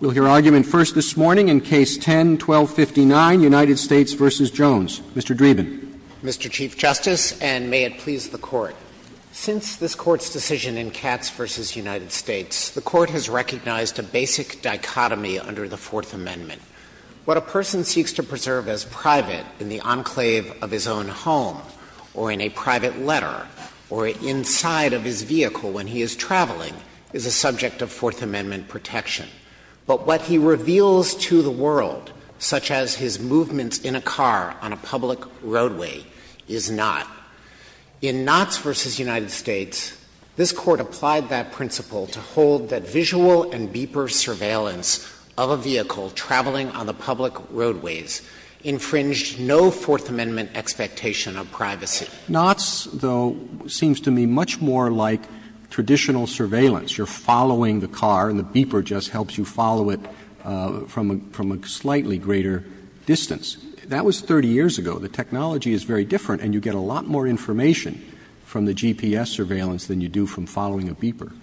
We'll hear argument first this morning in Case 10-1259, United States v. Jones. Mr. Dreeben. Mr. Chief Justice, and may it please the Court, since this Court's decision in Katz v. United States, the Court has recognized a basic dichotomy under the Fourth Amendment. What a person seeks to preserve as private in the enclave of his own home or in a private letter or inside of his vehicle when he is traveling is a subject of Fourth Amendment protection. But what he reveals to the world, such as his movements in a car on a public roadway, is not. In Knauts v. United States, this Court applied that principle to hold that visual and beeper surveillance of a vehicle traveling on the public roadways infringed no Fourth Amendment expectation of privacy. Knauts, though, seems to me much more like traditional surveillance. You're following the car and the beeper just helps you follow it from a slightly greater distance. That was 30 years ago. The technology is very different and you get a lot more information from the GPS surveillance than you do from following a beeper.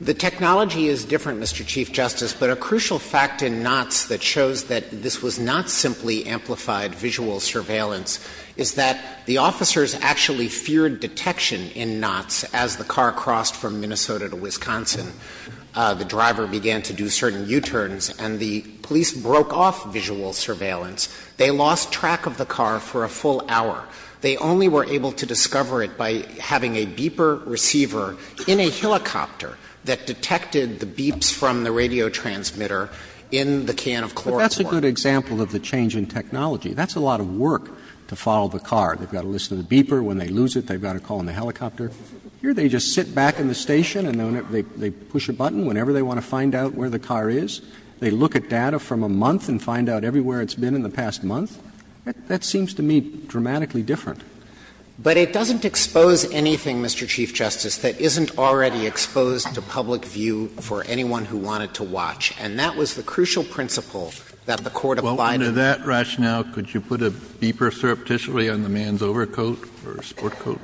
The technology is different, Mr. Chief Justice, but a crucial fact in Knauts that shows that this was not simply amplified visual surveillance is that the officers actually feared detection in Knauts as the car crossed from Minnesota to Wisconsin. The driver began to do certain U-turns and the police broke off visual surveillance. They lost track of the car for a full hour. They only were able to discover it by having a beeper receiver in a helicopter that detected the beeps from the radio transmitter in the can of chlorine. But that's a good example of the change in technology. That's a lot of work to follow the car. They've got a list of the beeper. When they lose it, they've got to call in the helicopter. Here they just sit back in the station and they push a button whenever they want to find out where the car is. They look at data from a month and find out everywhere it's been in the past month. That seems to me dramatically different. But it doesn't expose anything, Mr. Chief Justice, that isn't already exposed to public view for anyone who wanted to watch. And that was the crucial principle that the Court applied in Knauts. Kennedy, welcome to that rationale. Could you put a beeper surreptitiously on the man's overcoat or sport coat?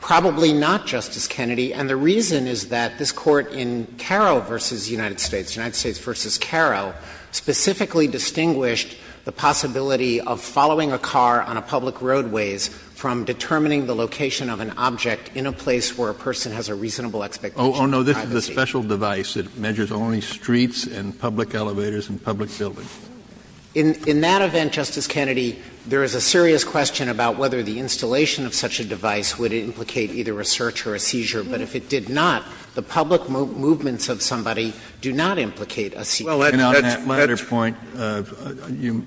Probably not, Justice Kennedy. And the reason is that this Court in Carro v. United States, United States v. Carro, specifically distinguished the possibility of following a car on a public roadways from determining the location of an object in a place where a person has a reasonable expectation of privacy. Oh, no. This is a special device that measures only streets and public elevators and public buildings. In that event, Justice Kennedy, there is a serious question about whether the installation of such a device would implicate either a search or a seizure. But if it did not, the public movements of somebody do not implicate a seizure. Well, that's the point. You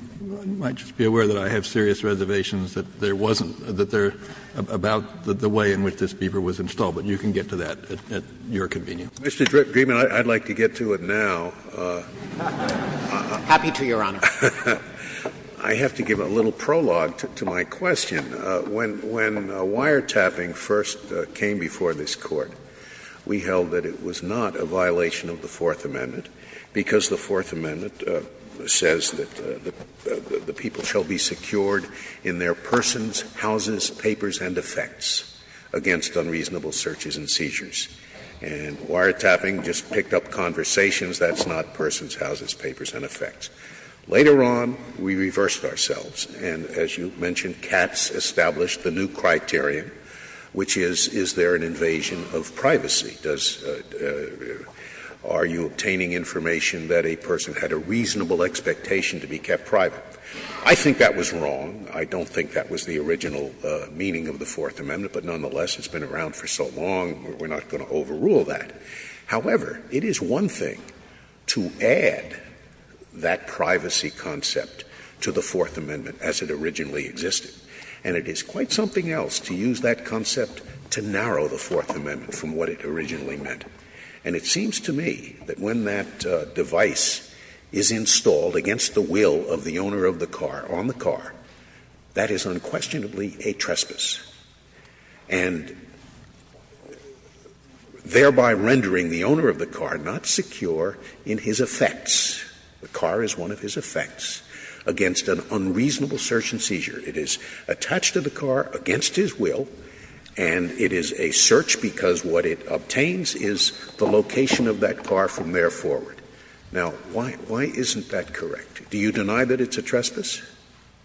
might just be aware that I have serious reservations that there wasn't, that there about the way in which this beeper was installed, but you can get to that at your convenience. Mr. Dreeben, I'd like to get to it now. Happy to, Your Honor. I have to give a little prologue to my question. When wiretapping first came before this Court, we held that it was not a violation of the Fourth Amendment, because the Fourth Amendment says that the people shall be secured in their persons, houses, papers, and effects against unreasonable searches and seizures. And wiretapping just picked up conversations. That's not persons, houses, papers, and effects. Later on, we reversed ourselves. And as you mentioned, Katz established the new criterion, which is, is there an invasion of privacy? Does the question, are you obtaining information that a person had a reasonable expectation to be kept private? I think that was wrong. I don't think that was the original meaning of the Fourth Amendment, but nonetheless, it's been around for so long, we're not going to overrule that. However, it is one thing to add that privacy concept to the Fourth Amendment as it originally existed, and it is quite something else to use that concept to narrow the Fourth Amendment from what it originally meant. And it seems to me that when that device is installed against the will of the owner of the car, on the car, that is unquestionably a trespass, and thereby rendering the owner of the car not secure in his effects. The car is one of his effects against an unreasonable search and seizure. It is attached to the car against his will, and it is a search because what it obtains is the location of that car from there forward. Now, why isn't that correct? Do you deny that it's a trespass?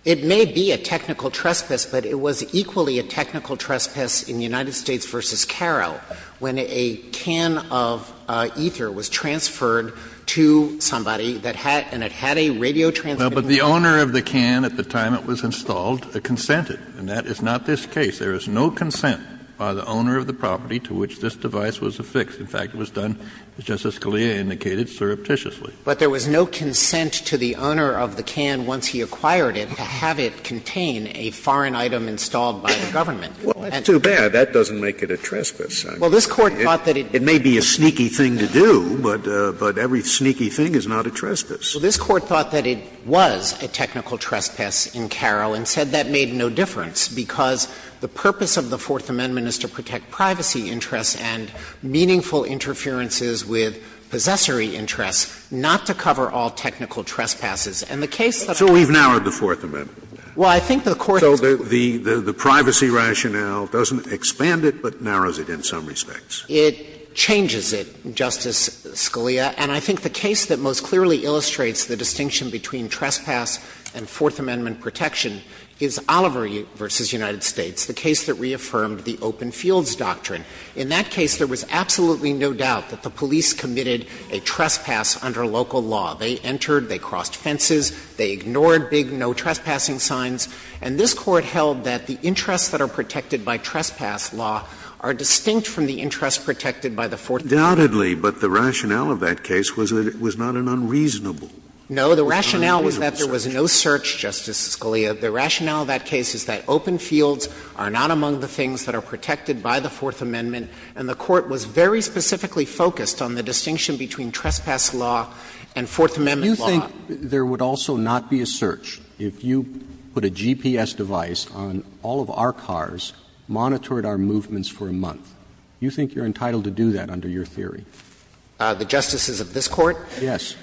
It may be a technical trespass, but it was equally a technical trespass in United States v. Carro when a can of ether was transferred to somebody that had, and it had a radio transmitter. Well, but the owner of the can at the time it was installed consented, and that is not this case. There is no consent by the owner of the property to which this device was affixed. In fact, it was done, as Justice Scalia indicated, surreptitiously. But there was no consent to the owner of the can, once he acquired it, to have it contain a foreign item installed by the government. Well, that's too bad. That doesn't make it a trespass. Well, this Court thought that it did. It may be a sneaky thing to do, but every sneaky thing is not a trespass. So this Court thought that it was a technical trespass in Carro and said that made no difference, because the purpose of the Fourth Amendment is to protect privacy interests and meaningful interferences with possessory interests, not to cover all technical trespasses. And the case that we have now. So we've narrowed the Fourth Amendment. Well, I think the Court has. So the privacy rationale doesn't expand it, but narrows it in some respects. It changes it, Justice Scalia. And I think the case that most clearly illustrates the distinction between trespass and Fourth Amendment protection is Oliver v. United States, the case that reaffirmed the open fields doctrine. In that case, there was absolutely no doubt that the police committed a trespass under local law. They entered, they crossed fences, they ignored big no trespassing signs. And this Court held that the interests that are protected by trespass law are distinct from the interests protected by the Fourth Amendment. Scalia, but the rationale of that case was that it was not an unreasonable search. No, the rationale was that there was no search, Justice Scalia. The rationale of that case is that open fields are not among the things that are protected by the Fourth Amendment. And the Court was very specifically focused on the distinction between trespass law and Fourth Amendment law. You think there would also not be a search if you put a GPS device on all of our cars, monitored our movements for a month. You think you're entitled to do that under your theory? The justices of this Court? Yes.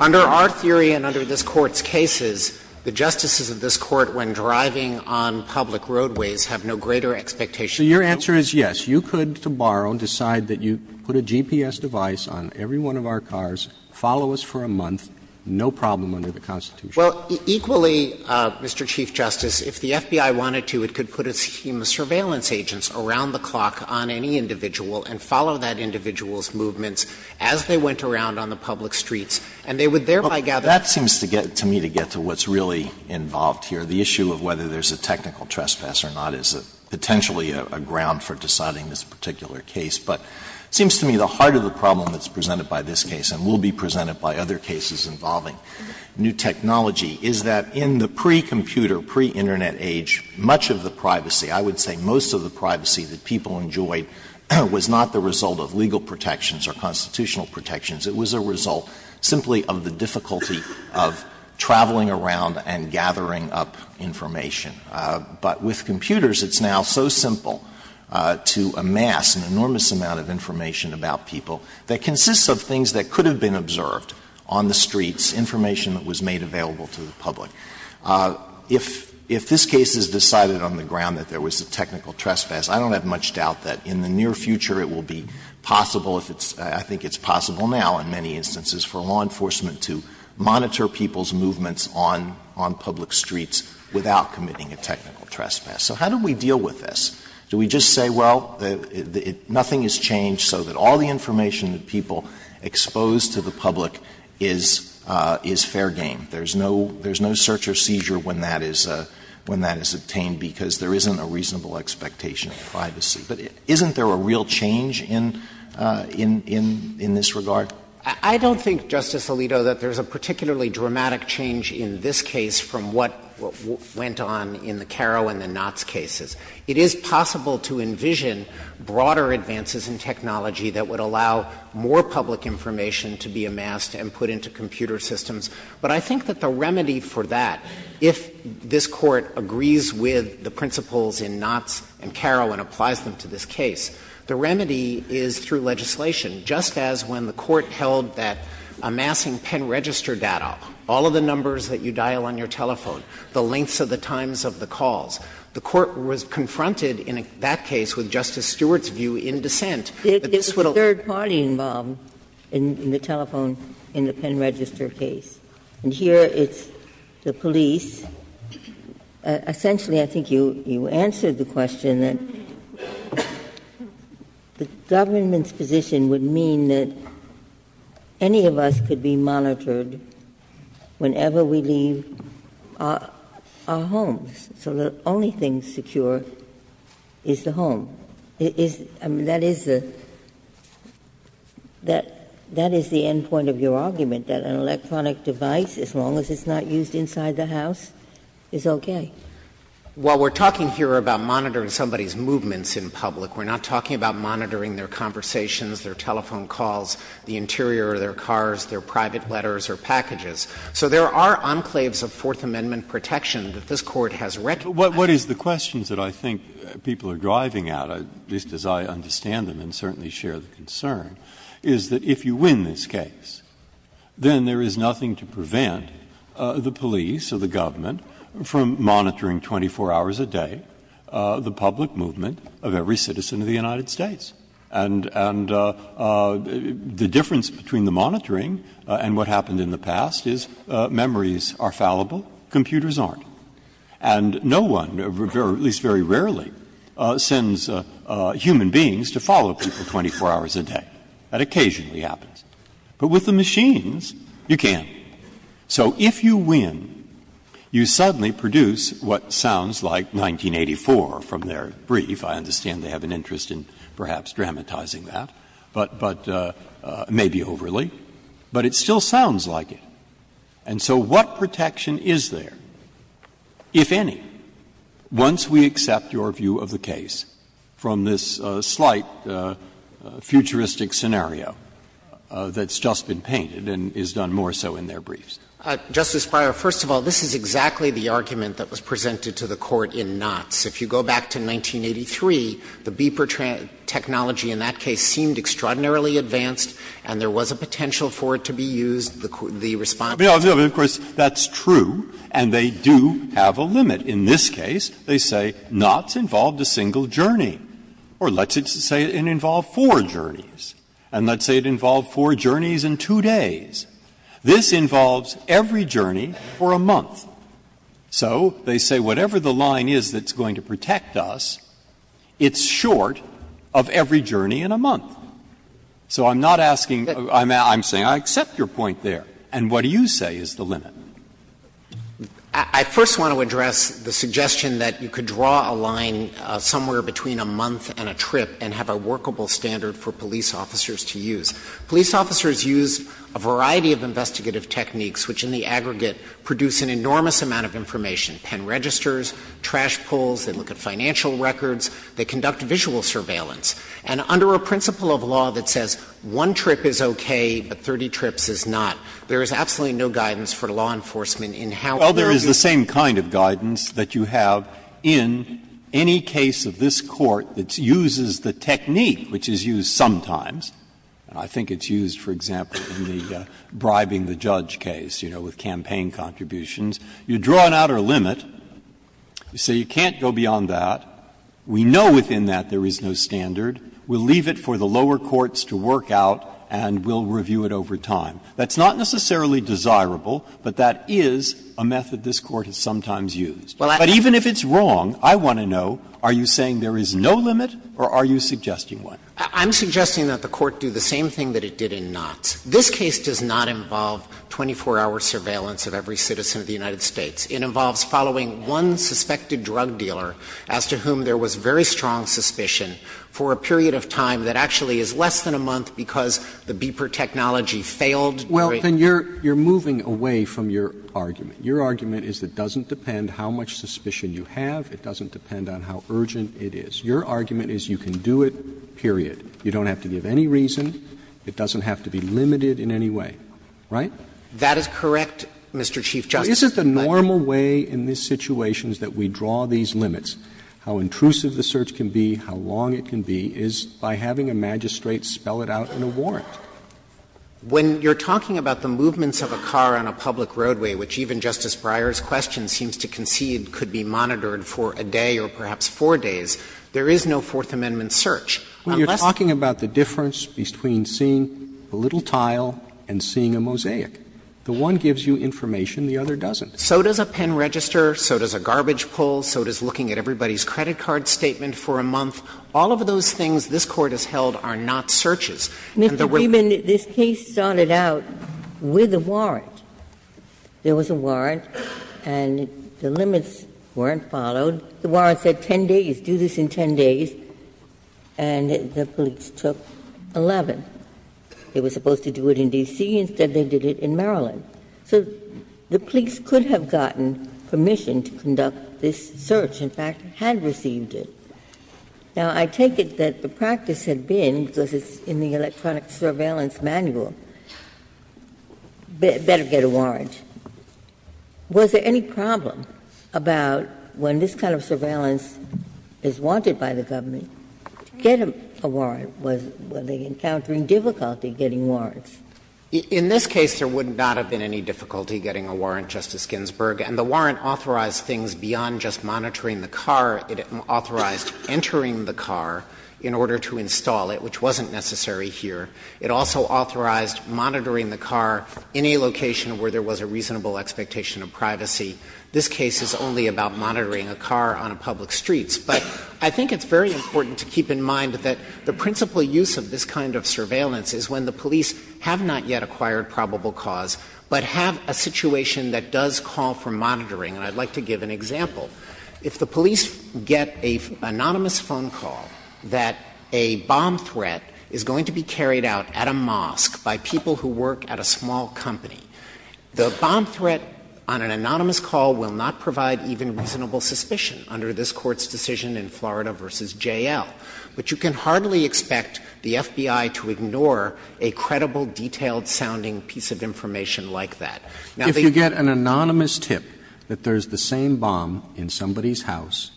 Under our theory and under this Court's cases, the justices of this Court, when driving on public roadways, have no greater expectation. So your answer is yes, you could, to borrow, decide that you put a GPS device on every one of our cars, follow us for a month, no problem under the Constitution. Well, equally, Mr. Chief Justice, if the FBI wanted to, it could put its human surveillance agents around the clock on any individual and follow that individual's movements as they went around on the public streets, and they would thereby gather. Well, that seems to get to me to get to what's really involved here. The issue of whether there's a technical trespass or not is potentially a ground for deciding this particular case. But it seems to me the heart of the problem that's presented by this case, and will be presented by other cases involving new technology, is that in the pre-computer, pre-Internet age, much of the privacy, I would say most of the privacy that people enjoyed was not the result of legal protections or constitutional protections. It was a result simply of the difficulty of traveling around and gathering up information. But with computers, it's now so simple to amass an enormous amount of information about people that consists of things that could have been observed on the streets, information that was made available to the public. If this case is decided on the ground that there was a technical trespass, I don't have much doubt that in the near future it will be possible if it's — I think it's possible now in many instances for law enforcement to monitor people's movements on public streets without committing a technical trespass. So how do we deal with this? Do we just say, well, nothing has changed, so that all the information that people expose to the public is fair game? There's no search or seizure when that is obtained, because there isn't a reasonable expectation of privacy. But isn't there a real change in this regard? I don't think, Justice Alito, that there's a particularly dramatic change in this case from what went on in the Caro and the Knott's cases. It is possible to envision broader advances in technology that would allow more public information to be amassed and put into computer systems. But I think that the remedy for that, if this Court agrees with the principles in Knott's and Caro and applies them to this case, the remedy is through legislation. Just as when the Court held that amassing pen register data, all of the numbers that you dial on your telephone, the lengths of the times of the calls, the Court was confronted in that case with Justice Stewart's view in dissent that this would Ginsburg The third party involved in the telephone in the pen register case. And here, it's the police. Essentially, I think you answered the question that the government's position would mean that any of us could be monitored whenever we leave our homes. So the only thing secure is the home. That is the end point of your argument, that an electronic device, as long as it's not used inside the house, is okay. Dreeben, While we're talking here about monitoring somebody's movements in public, we're not talking about monitoring their conversations, their telephone calls, the interior of their cars, their private letters or packages. So there are enclaves of Fourth Amendment protection that this Court has recognized. Breyer, What is the question that I think people are driving at, at least as I understand them and certainly share the concern, is that if you win this case, then there is nothing to prevent the police or the government from monitoring 24 hours a day the public movement of every citizen of the United States. And the difference between the monitoring and what happened in the past is memories are fallible, computers aren't. And no one, at least very rarely, sends human beings to follow people 24 hours a day. That occasionally happens. But with the machines, you can. So if you win, you suddenly produce what sounds like 1984 from their brief. I understand they have an interest in perhaps dramatizing that, but may be overly. But it still sounds like it. And so what protection is there, if any, once we accept your view of the case from this slight futuristic scenario that's just been painted and is done more so in their briefs? Dreeben, Justice Breyer, first of all, this is exactly the argument that was presented to the Court in Knotts. If you go back to 1983, the beeper technology in that case seemed extraordinarily advanced, and there was a potential for it to be used. The response was not. Breyer, of course, that's true, and they do have a limit. In this case, they say Knotts involved a single journey, or let's say it involved four journeys, and let's say it involved four journeys in two days. This involves every journey for a month. So they say whatever the line is that's going to protect us, it's short of every journey in a month. So I'm not asking you to accept your point there, and what do you say is the limit? Dreeben, Justice Breyer, I first want to address the suggestion that you could draw a line somewhere between a month and a trip and have a workable standard for police officers to use. And in the case of Knotts, there's a rule in the case of Knotts that states that the government works with a company that produces an enormous amount of information, pen registers, trash pulls, they look at financial records, they conduct visual surveillance and under a principle of law that says one trip is okay, but 30 trips is not, there is absolutely no guidance for law enforcement in how to do that. It's the kind of guidance that you have in any case of this Court that uses the technique, which is used sometimes, and I think it's used, for example, in the bribing the judge case, you know, with campaign contributions. You draw an outer limit, you say you can't go beyond that, we know within that there is no standard, we'll leave it for the lower courts to work out and we'll review it over time. That's not necessarily desirable, but that is a method this Court has sometimes used. But even if it's wrong, I want to know, are you saying there is no limit or are you suggesting one? Dreeben. Dreeben. I'm suggesting that the Court do the same thing that it did in Knotts. This case does not involve 24-hour surveillance of every citizen of the United States. It involves following one suspected drug dealer as to whom there was very strong suspicion for a period of time that actually is less than a month because the beeper technology failed. Roberts Well, then you're moving away from your argument. Your argument is it doesn't depend how much suspicion you have, it doesn't depend on how urgent it is. Your argument is you can do it, period. You don't have to give any reason. It doesn't have to be limited in any way. Right? Dreeben. That is correct, Mr. Chief Justice. Roberts But isn't the normal way in this situation is that we draw these limits. spell it out in a warrant. When you're talking about the movements of a car on a public roadway, which even Justice Breyer's question seems to concede could be monitored for a day or perhaps four days, there is no Fourth Amendment search. Unless you're talking about the difference between seeing a little tile and seeing a mosaic. The one gives you information, the other doesn't. So does a pen register, so does a garbage pull, so does looking at everybody's credit card statement for a month. All of those things this Court has held are not searches. And there were Mr. Dreeben, this case started out with a warrant. There was a warrant and the limits weren't followed. The warrant said 10 days, do this in 10 days. And the police took 11. They were supposed to do it in D.C. Instead, they did it in Maryland. So the police could have gotten permission to conduct this search, in fact, had received it. Now, I take it that the practice had been, because it's in the electronic surveillance manual, better get a warrant. Was there any problem about when this kind of surveillance is wanted by the government, to get a warrant? Were they encountering difficulty getting warrants? In this case, there would not have been any difficulty getting a warrant, Justice Ginsburg. And the warrant authorized things beyond just monitoring the car. It authorized entering the car in order to install it, which wasn't necessary here. It also authorized monitoring the car in a location where there was a reasonable expectation of privacy. This case is only about monitoring a car on public streets. But I think it's very important to keep in mind that the principal use of this kind of surveillance is when the police have not yet acquired probable cause, but have a situation that does call for monitoring. And I'd like to give an example. If the police get an anonymous phone call that a bomb threat is going to be carried out at a mosque by people who work at a small company, the bomb threat on an anonymous call will not provide even reasonable suspicion under this Court's decision in Florida v. J.L. But you can hardly expect the FBI to ignore a credible, detailed-sounding piece of information like that. Now, the- Roberts If you get an anonymous tip that there's the same bomb in somebody's house,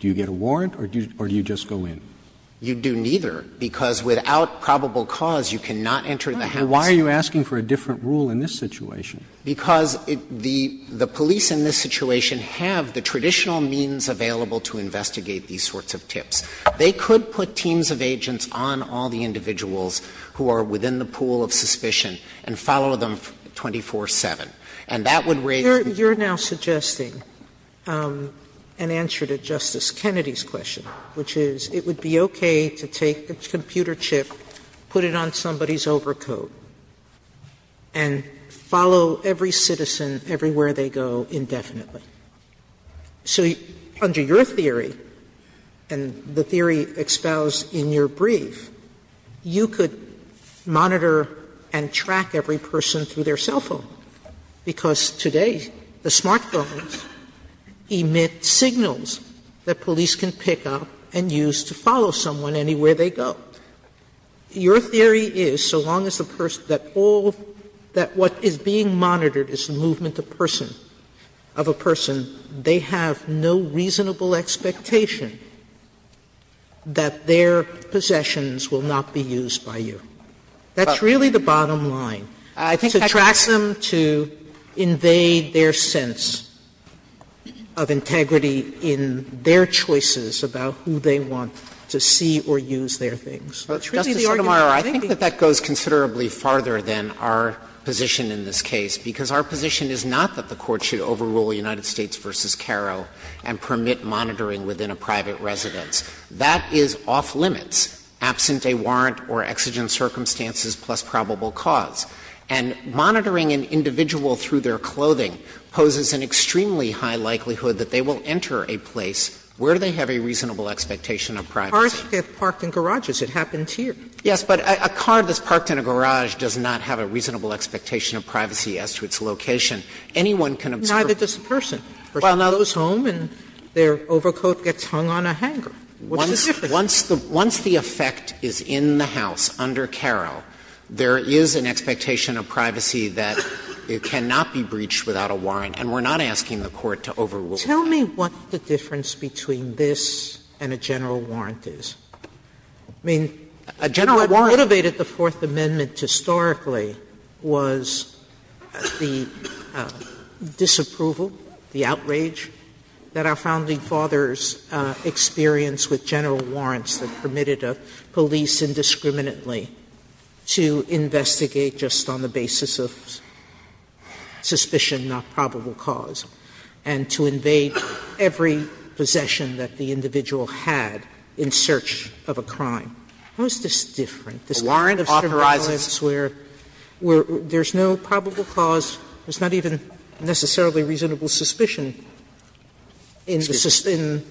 do you get a warrant, or do you just go in? Dreeben You do neither, because without probable cause, you cannot enter the house. Roberts Why are you asking for a different rule in this situation? Dreeben Because the police in this situation have the traditional means available to investigate these sorts of tips. They could put teams of agents on all the individuals who are within the pool of suspicion and follow them 24-7. And that would raise the- Sotomayor You're now suggesting an answer to Justice Kennedy's question, which is it would be okay to take a computer chip, put it on somebody's overcoat, and follow every citizen everywhere they go indefinitely. So under your theory, and the theory espoused in your brief, you could monitor and track every person through their cell phone, because today the smartphones emit signals that police can pick up and use to follow someone anywhere they go. Your theory is, so long as the person that all that what is being monitored is the movement of person, of a person, they have no reasonable expectation that their possessions will not be used by you. That's really the bottom line. To track them, to invade their sense of integrity in their choices about who they want to see or use their things. Dreeben Justice Sotomayor, I think that that goes considerably farther than our position in this case, because our position is not that the Court should overrule United States v. Carro and permit monitoring within a private residence. That is off limits, absent a warrant or exigent circumstances plus probable cause. And monitoring an individual through their clothing poses an extremely high likelihood that they will enter a place where they have a reasonable expectation of privacy. Sotomayor, Cars get parked in garages. It happens here. Yes, but a car that's parked in a garage does not have a reasonable expectation of privacy as to its location. Anyone can observe. Neither does the person. Well, now those home and their overcoat gets hung on a hanger. What's the difference? Once the effect is in the house under Carro, there is an expectation of privacy that it cannot be breached without a warrant, and we're not asking the Court to overrule it. Tell me what the difference between this and a general warrant is. I mean, a general warrant. What motivated the Fourth Amendment historically was the disapproval, the outrage that our Founding Fathers experienced with general warrants that permitted a police indiscriminately to investigate just on the basis of suspicion, not probable cause, and to invade every possession that the individual had in search of a crime. How is this different? This is different from surveillance where there's no probable cause, there's not even necessarily reasonable suspicion in the system.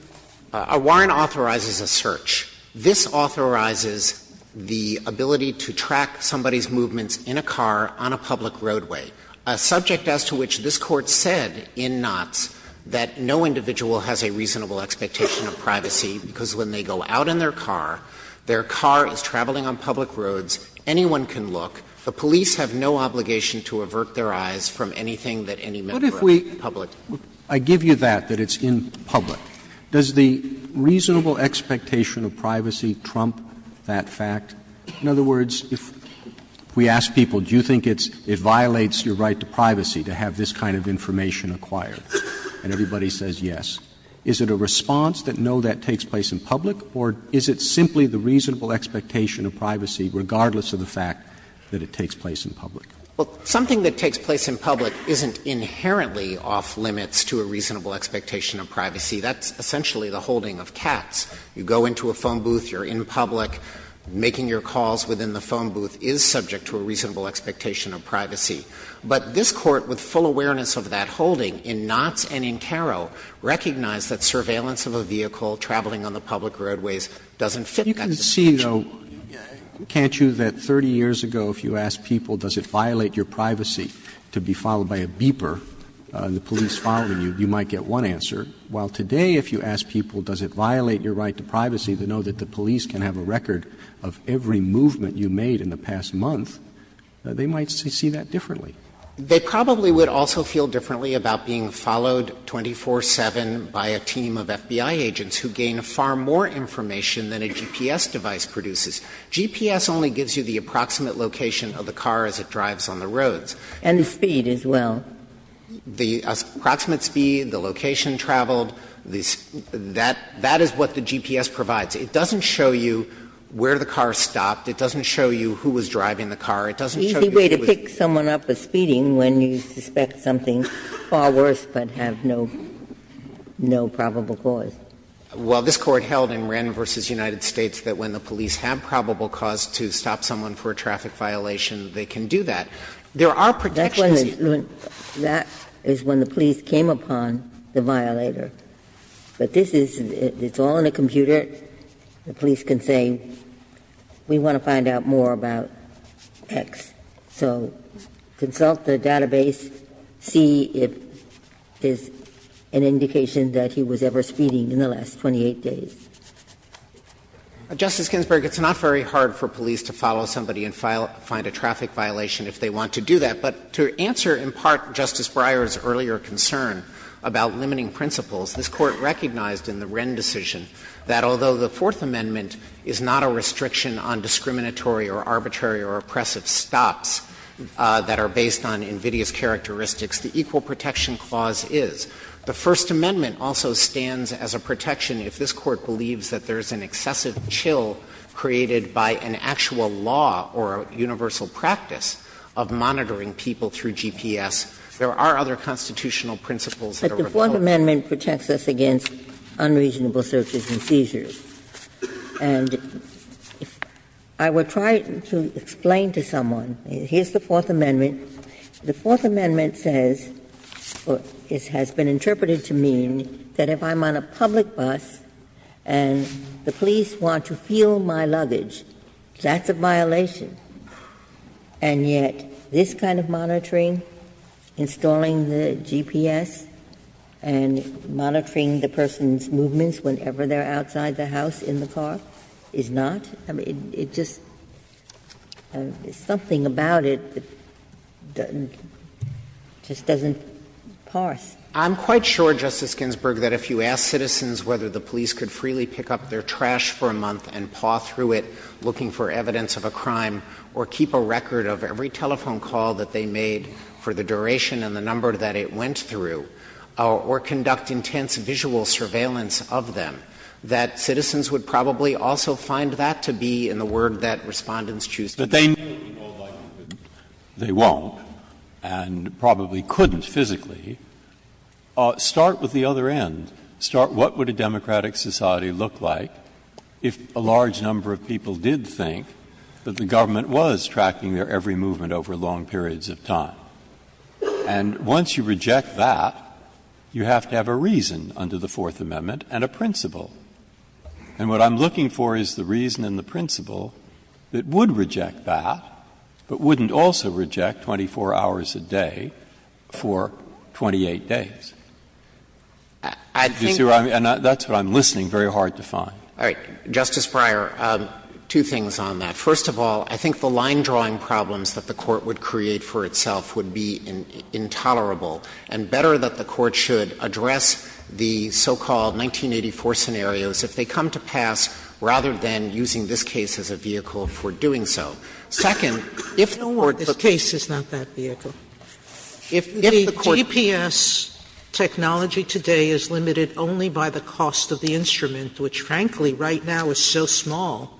Our warrant authorizes a search. This authorizes the ability to track somebody's movements in a car on a public roadway, a subject as to which this Court said in Knotts that no individual has a reasonable expectation of privacy because when they go out in their car, their car is traveling on public roads, anyone can look, the police have no obligation to avert their eyes from anything that any member of the public. Roberts. Roberts. I give you that, that it's in public. Does the reasonable expectation of privacy trump that fact? In other words, if we ask people, do you think it violates your right to privacy to have this kind of information acquired, and everybody says yes, is it a response that no, that takes place in public, or is it simply the reasonable expectation of privacy regardless of the fact that it takes place in public? Well, something that takes place in public isn't inherently off limits to a reasonable expectation of privacy. That's essentially the holding of cats. You go into a phone booth, you're in public, making your calls within the phone booth is subject to a reasonable expectation of privacy. But this Court, with full awareness of that holding, in Knotts and in Caro, recognized that surveillance of a vehicle traveling on the public roadways doesn't fit that expectation. But you can see, though, can't you, that 30 years ago, if you asked people, does it violate your privacy to be followed by a beeper, the police following you, you might get one answer, while today, if you ask people, does it violate your right to privacy to know that the police can have a record of every movement you made in the past month, they might see that differently. They probably would also feel differently about being followed 24-7 by a team of FBI agents who gain far more information than a GPS device produces. GPS only gives you the approximate location of the car as it drives on the roads. And the speed as well. The approximate speed, the location traveled, that is what the GPS provides. It doesn't show you where the car stopped. It doesn't show you who was driving the car. It doesn't show you who was driving the car. It's an easy way to pick someone up for speeding when you suspect something far worse, but have no probable cause. Dreeben, this Court held in Wren v. United States that when the police have probable cause to stop someone for a traffic violation, they can do that. There are protections. That is when the police came upon the violator. But this is, it's all in a computer. The police can say, we want to find out more about X. So consult the database, see if there's an indication that he was ever speeding in the last 28 days. Dreeben, Justice Ginsburg, it's not very hard for police to follow somebody and find a traffic violation if they want to do that. But to answer in part Justice Breyer's earlier concern about limiting principles, this Court recognized in the Wren decision that although the Fourth Amendment is not a restriction on discriminatory or arbitrary or oppressive stops that are based on invidious characteristics, the Equal Protection Clause is. The First Amendment also stands as a protection if this Court believes that there is an excessive chill created by an actual law or a universal practice of monitoring people through GPS. There are other constitutional principles that are opposed to that. But the Fourth Amendment protects us against unreasonable searches and seizures. And I would try to explain to someone, here's the Fourth Amendment. The Fourth Amendment says, or has been interpreted to mean, that if I'm on a public bus and the police want to feel my luggage, that's a violation. And yet this kind of monitoring, installing the GPS, and monitoring the person's movements whenever they're outside the house in the car, is not? I mean, it just — something about it just doesn't parse. Dreeben, I'm quite sure, Justice Ginsburg, that if you ask citizens whether the police could freely pick up their trash for a month and paw through it looking for evidence of a crime, or keep a record of every telephone call that they made for the duration and the number that it went through, or conduct intense visual surveillance of them, that citizens would probably also find that to be in the word that Respondents choose to use. Breyer, they may be held liable, but they won't, and probably couldn't physically. Start with the other end. Start what would a democratic society look like if a large number of people did think that the government was tracking their every movement over long periods of time? And once you reject that, you have to have a reason under the Fourth Amendment and a principle. And what I'm looking for is the reason and the principle that would reject that, but wouldn't also reject 24 hours a day for 28 days. I think that's what I'm listening very hard to find. All right. Justice Breyer, two things on that. First of all, I think the line-drawing problems that the Court would create for itself would be intolerable, and better that the Court should address the so-called 1984 scenarios if they come to pass, rather than using this case as a vehicle Second, if the Court looked at the case. Sotomayor, this case is not that vehicle. If the GPS technology today is limited only by the cost of the instrument, which frankly right now is so small,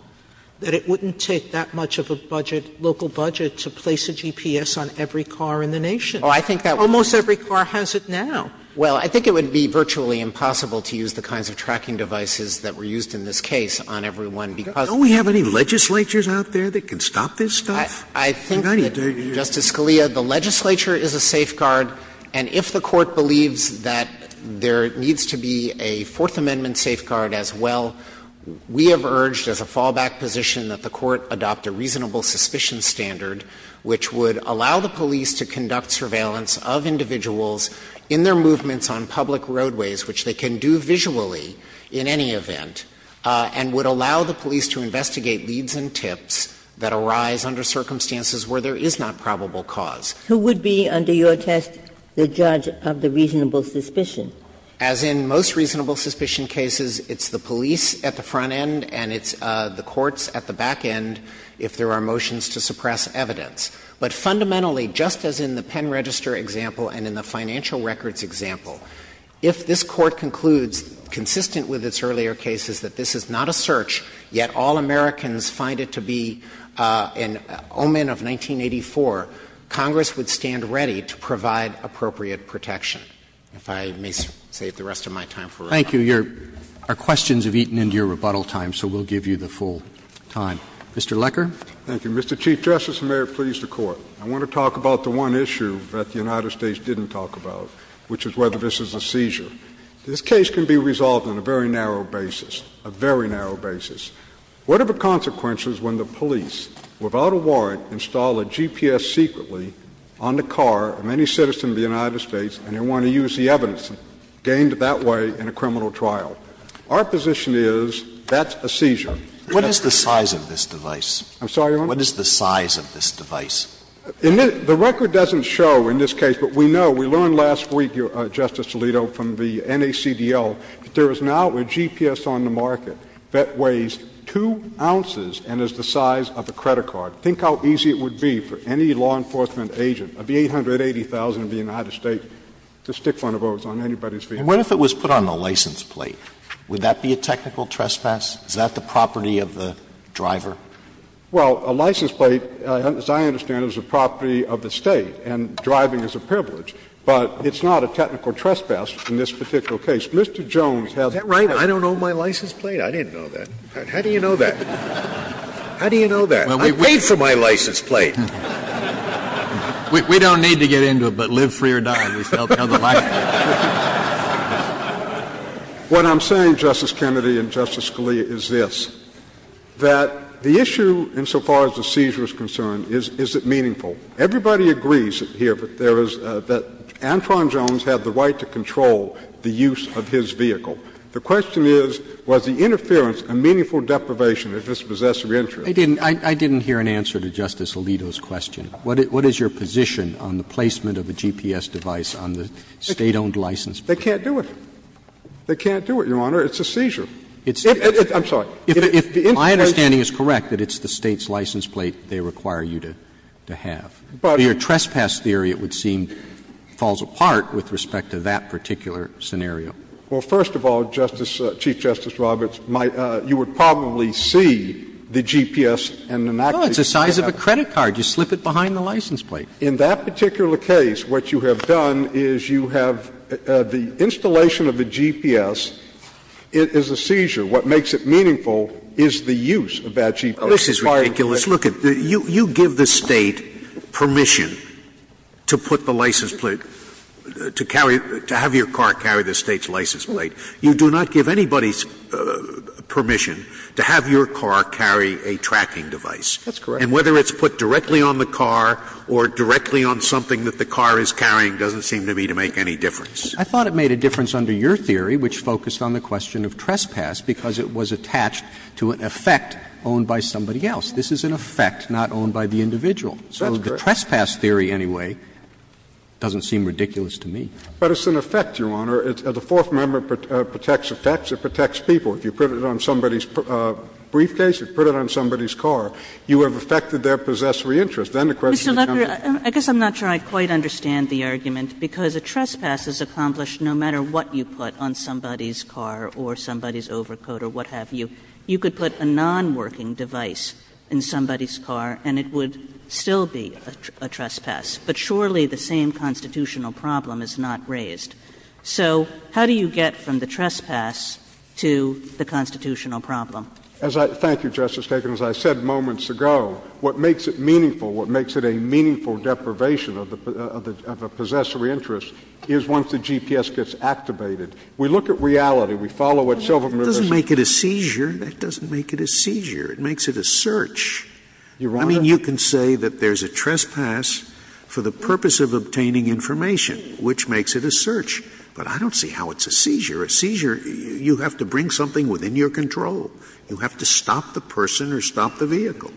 that it wouldn't take that much of a budget, local budget to place a GPS on every car in the nation. Almost every car has it now. Well, I think it would be virtually impossible to use the kinds of tracking devices that were used in this case on every one, because Don't we have any legislatures out there that can stop this stuff? I think that, Justice Scalia, the legislature is a safeguard, and if the Court believes that there needs to be a Fourth Amendment safeguard as well, we have urged as a fallback position that the Court adopt a reasonable suspicion standard which would allow the police to conduct surveillance of individuals in their movements on public roadways, which they can do visually in any event, and would allow the police to investigate leads and tips that arise under circumstances where there is not probable cause. Who would be, under your test, the judge of the reasonable suspicion? As in most reasonable suspicion cases, it's the police at the front end and it's the courts at the back end if there are motions to suppress evidence. But fundamentally, just as in the pen register example and in the financial records example, if this Court concludes, consistent with its earlier cases, that this is not a search, yet all Americans find it to be an omen of 1984, Congress would stand ready to provide appropriate protection, if I may save the rest of my time for rebuttal. Roberts. Thank you. Our questions have eaten into your rebuttal time, so we'll give you the full time. Mr. Lecker. Thank you. Mr. Chief Justice, and may it please the Court, I want to talk about the one issue that the United States didn't talk about, which is whether this is a seizure. This case can be resolved on a very narrow basis, a very narrow basis. What are the consequences when the police, without a warrant, install a GPS secretly on the car of any citizen of the United States and they want to use the evidence gained that way in a criminal trial? Our position is that's a seizure. What is the size of this device? I'm sorry, Your Honor? What is the size of this device? The record doesn't show in this case, but we know, we learned last week, Justice Alito, from the NACDL, that there is now a GPS on the market that weighs 2 ounces and is the size of a credit card. Think how easy it would be for any law enforcement agent of the 880,000 of the United States to stick one of those on anybody's vehicle. And what if it was put on the license plate? Would that be a technical trespass? Is that the property of the driver? Well, a license plate, as I understand it, is a property of the State, and driving is a privilege. But it's not a technical trespass in this particular case. Mr. Jones has a license plate. Is that right? I don't own my license plate? I didn't know that. How do you know that? How do you know that? I paid for my license plate. We don't need to get into it, but live free or die, at least they'll tell the license plate. What I'm saying, Justice Kennedy and Justice Scalia, is this, that the issue insofar as the seizure is concerned, is it meaningful? Everybody agrees here that there is the — that Antron Jones had the right to control the use of his vehicle. The question is, was the interference a meaningful deprivation of his possessory interest? I didn't — I didn't hear an answer to Justice Alito's question. What is your position on the placement of a GPS device on the State-owned license plate? They can't do it. They can't do it, Your Honor. It's a seizure. I'm sorry. If my understanding is correct, that it's the State's license plate they require you to have. Your trespass theory, it would seem, falls apart with respect to that particular scenario. Well, first of all, Chief Justice Roberts, you would probably see the GPS in an act of seizure. Well, it's the size of a credit card. You slip it behind the license plate. In that particular case, what you have done is you have the installation of the GPS as a seizure. What makes it meaningful is the use of that GPS. This is ridiculous. Look, you give the State permission to put the license plate, to carry — to have your car carry the State's license plate. You do not give anybody's permission to have your car carry a tracking device. That's correct. And whether it's put directly on the car or directly on something that the car is carrying doesn't seem to me to make any difference. I thought it made a difference under your theory, which focused on the question of trespass, because it was attached to an effect owned by somebody else. This is an effect not owned by the individual. That's correct. So the trespass theory anyway doesn't seem ridiculous to me. But it's an effect, Your Honor. The Fourth Amendment protects effects, it protects people. If you put it on somebody's briefcase, if you put it on somebody's car, you have affected their possessory interest. Then the question becomes the same. Mr. Lefferts, I guess I'm not sure I quite understand the argument, because a trespass is accomplished no matter what you put on somebody's car or somebody's overcoat or what have you. You could put a nonworking device in somebody's car and it would still be a trespass. But surely the same constitutional problem is not raised. So how do you get from the trespass to the constitutional problem? Thank you, Justice Kagan. As I said moments ago, what makes it meaningful, what makes it a meaningful deprivation of a possessory interest is once the GPS gets activated. We look at reality. We follow it. It doesn't make it a seizure. That doesn't make it a seizure. It makes it a search. Your Honor. I mean, you can say that there's a trespass for the purpose of obtaining information, which makes it a search. But I don't see how it's a seizure. A seizure, you have to bring something within your control. You have to stop the person or stop the vehicle.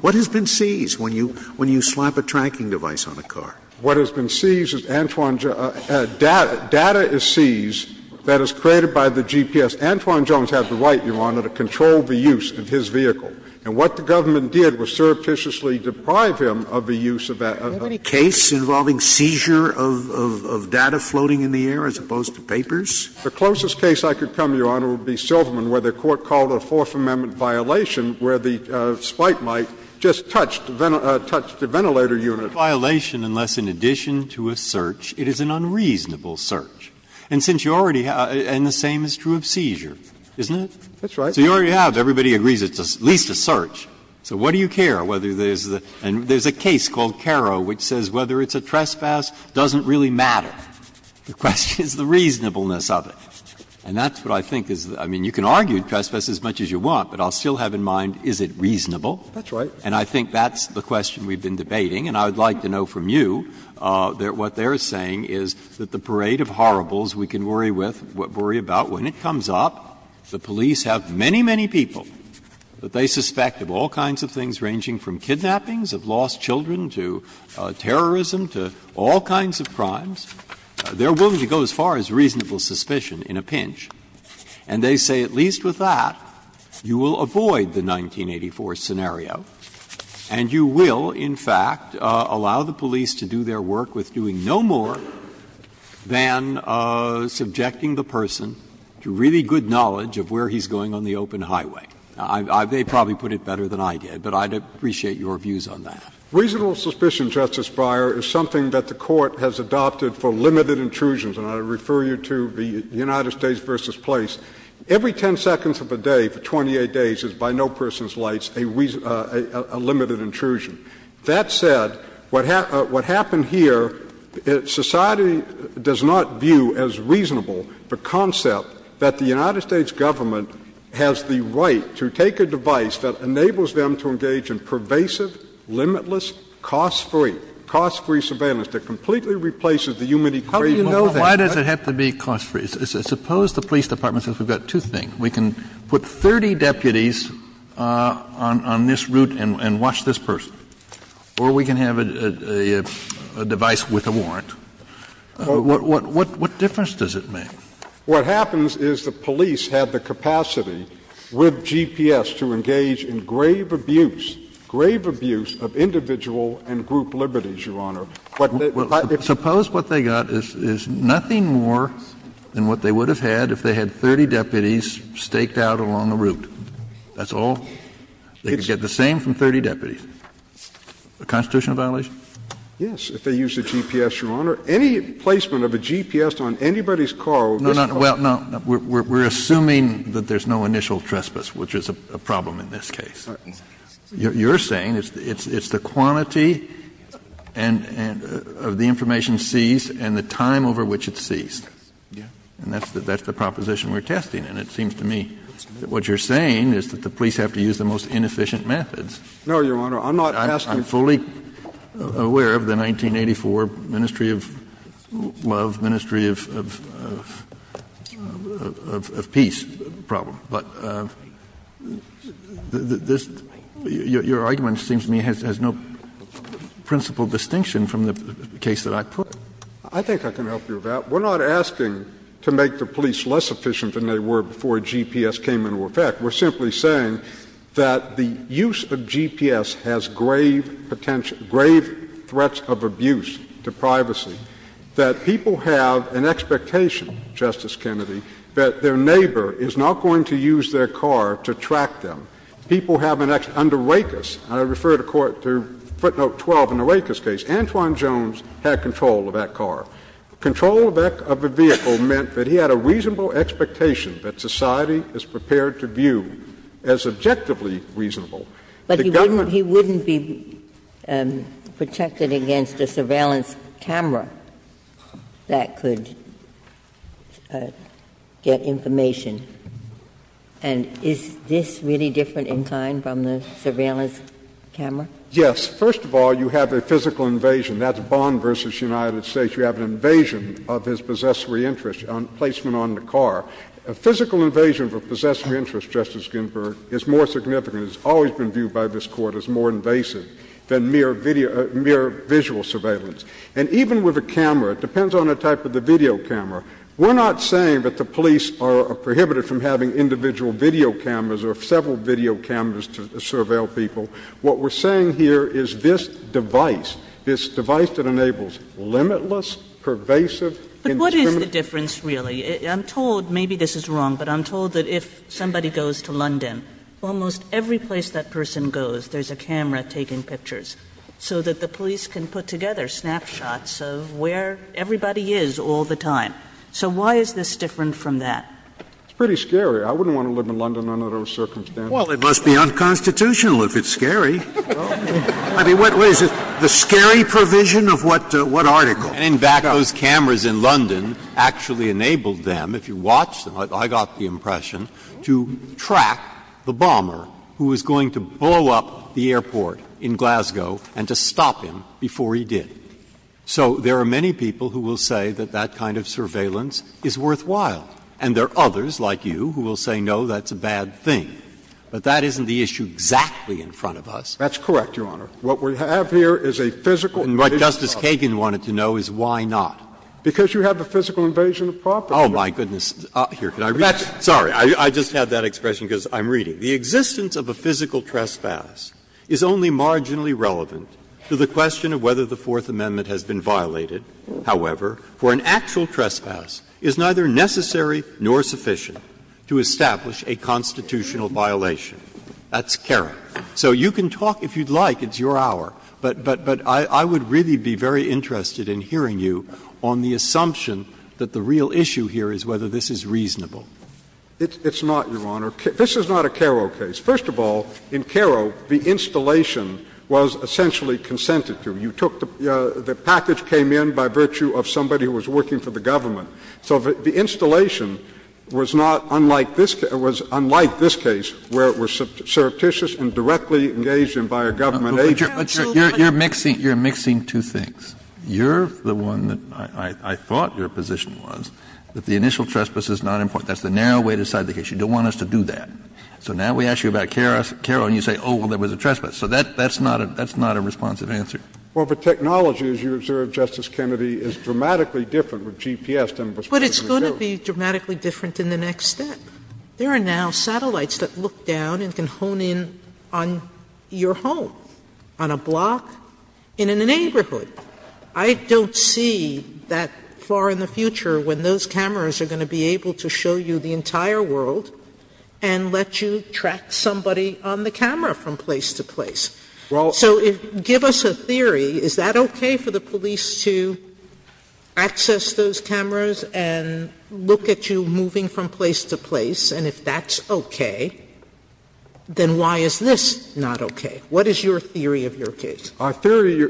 What has been seized when you slap a tracking device on a car? What has been seized is Antoine — data is seized that is created by the GPS. Antoine Jones had the right, Your Honor, to control the use of his vehicle. And what the government did was surreptitiously deprive him of the use of that. Are there any cases involving seizure of data floating in the air as opposed to papers? The closest case I could come, Your Honor, would be Silverman, where the Court called it a Fourth Amendment violation, where the spike light just touched the ventilator unit. Breyer, unless in addition to a search, it is an unreasonable search. And since you already have — and the same is true of seizure, isn't it? That's right. So you already have, everybody agrees it's at least a search. So what do you care whether there's the — and there's a case called Caro which says whether it's a trespass doesn't really matter. The question is the reasonableness of it. And that's what I think is — I mean, you can argue trespass as much as you want, but I'll still have in mind, is it reasonable? That's right. And I think that's the question we've been debating. And I would like to know from you that what they're saying is that the parade of horribles we can worry with, worry about, when it comes up, the police have many, many people that they suspect of all kinds of things ranging from kidnappings of lost children to terrorism to all kinds of crimes. They're willing to go as far as reasonable suspicion in a pinch, and they say at least with that you will avoid the 1984 scenario and you will, in fact, allow the police to do their work with doing no more than subjecting the person to really good knowledge of where he's going on the open highway. They probably put it better than I did, but I'd appreciate your views on that. Reasonable suspicion, Justice Breyer, is something that the Court has adopted for limited intrusions, and I refer you to the United States v. Place. Every 10 seconds of a day for 28 days is, by no person's lights, a limited intrusion. That said, what happened here, society does not view as reasonable the concept that the United States Government has the right to take a device that enables them to engage in pervasive, limitless, cost-free, cost-free surveillance that completely replaces the human equation. How do you know that? Why does it have to be cost-free? Suppose the police department says we've got two things. We can put 30 deputies on this route and watch this person, or we can have a device with a warrant. What difference does it make? What happens is the police have the capacity with GPS to engage in grave abuse, grave abuse of individual and group liberties, Your Honor. Suppose what they got is nothing more than what they would have had if they had 30 deputies staked out along the route. That's all? They could get the same from 30 deputies. A constitutional violation? Yes, if they used a GPS, Your Honor. Any placement of a GPS on anybody's car will disqualify them. No, no, we're assuming that there's no initial trespass, which is a problem in this case. You're saying it's the quantity of the information seized and the time over which it's seized, and that's the proposition we're testing, and it seems to me that what you're saying is that the police have to use the most inefficient methods. No, Your Honor, I'm not testing. I'm fully aware of the 1984 Ministry of Love, Ministry of Peace problem, but this – your argument seems to me has no principal distinction from the case that I put. I think I can help you with that. We're not asking to make the police less efficient than they were before GPS came into effect. We're simply saying that the use of GPS has grave potential – grave threats of abuse to privacy, that people have an expectation, Justice Kennedy, that their neighbor is not going to use their car to track them. People have an – under Rakes, and I refer to footnote 12 in the Rakes case, Antwone Jones had control of that car. Control of the vehicle meant that he had a reasonable expectation that society is prepared to view as objectively reasonable. The government – But he wouldn't be protected against a surveillance camera that could get information. And is this really different in kind from the surveillance camera? Yes. First of all, you have a physical invasion. That's Bond v. United States. You have an invasion of his possessory interest on placement on the car. A physical invasion of a possessory interest, Justice Ginsburg, is more significant. It's always been viewed by this Court as more invasive than mere video – mere visual surveillance. And even with a camera, it depends on the type of the video camera. We're not saying that the police are prohibited from having individual video cameras or several video cameras to surveil people. What we're saying here is this device, this device that enables limitless, pervasive indiscriminate – But what is the difference, really? I'm told – maybe this is wrong, but I'm told that if somebody goes to London, almost every place that person goes, there's a camera taking pictures so that the police can put together snapshots of where everybody is all the time. So why is this different from that? It's pretty scary. I wouldn't want to live in London under those circumstances. Well, it must be unconstitutional if it's scary. I mean, what is it, the scary provision of what article? And, in fact, those cameras in London actually enabled them, if you watch them, I got the impression, to track the bomber who was going to blow up the airport in Glasgow and to stop him before he did. So there are many people who will say that that kind of surveillance is worthwhile, and there are others, like you, who will say, no, that's a bad thing. But that isn't the issue exactly in front of us. That's correct, Your Honor. What we have here is a physical – Breyer. And what Justice Kagan wanted to know is why not. Because you have a physical invasion of property. Oh, my goodness. Here, can I read it? Sorry. I just had that expression because I'm reading. The existence of a physical trespass is only marginally relevant to the question of whether the Fourth Amendment has been violated, however, for an actual trespass is neither necessary nor sufficient to establish a constitutional violation. That's carrot. So you can talk, if you'd like, it's your hour. But I would really be very interested in hearing you on the assumption that the real issue here is whether this is reasonable. It's not, Your Honor. This is not a Karo case. First of all, in Karo, the installation was essentially consented to. You took the – the package came in by virtue of somebody who was working for the government. So the installation was not unlike this – was unlike this case, where it was surreptitious and directly engaged in by a government agent. But you're mixing – you're mixing two things. You're the one that I thought your position was that the initial trespass is not important. That's the narrow way to decide the case. You don't want us to do that. So now we ask you about Karo, and you say, oh, well, there was a trespass. So that's not a – that's not a responsive answer. Well, for technology, as you observed, Justice Kennedy, it's dramatically different with GPS than it was previously known. But it's going to be dramatically different in the next step. There are now satellites that look down and can hone in on your home. On a block in a neighborhood. I don't see that far in the future when those cameras are going to be able to show you the entire world and let you track somebody on the camera from place to place. Well – So give us a theory. Is that okay for the police to access those cameras and look at you moving from place to place? And if that's okay, then why is this not okay? What is your theory of your case? Our theory,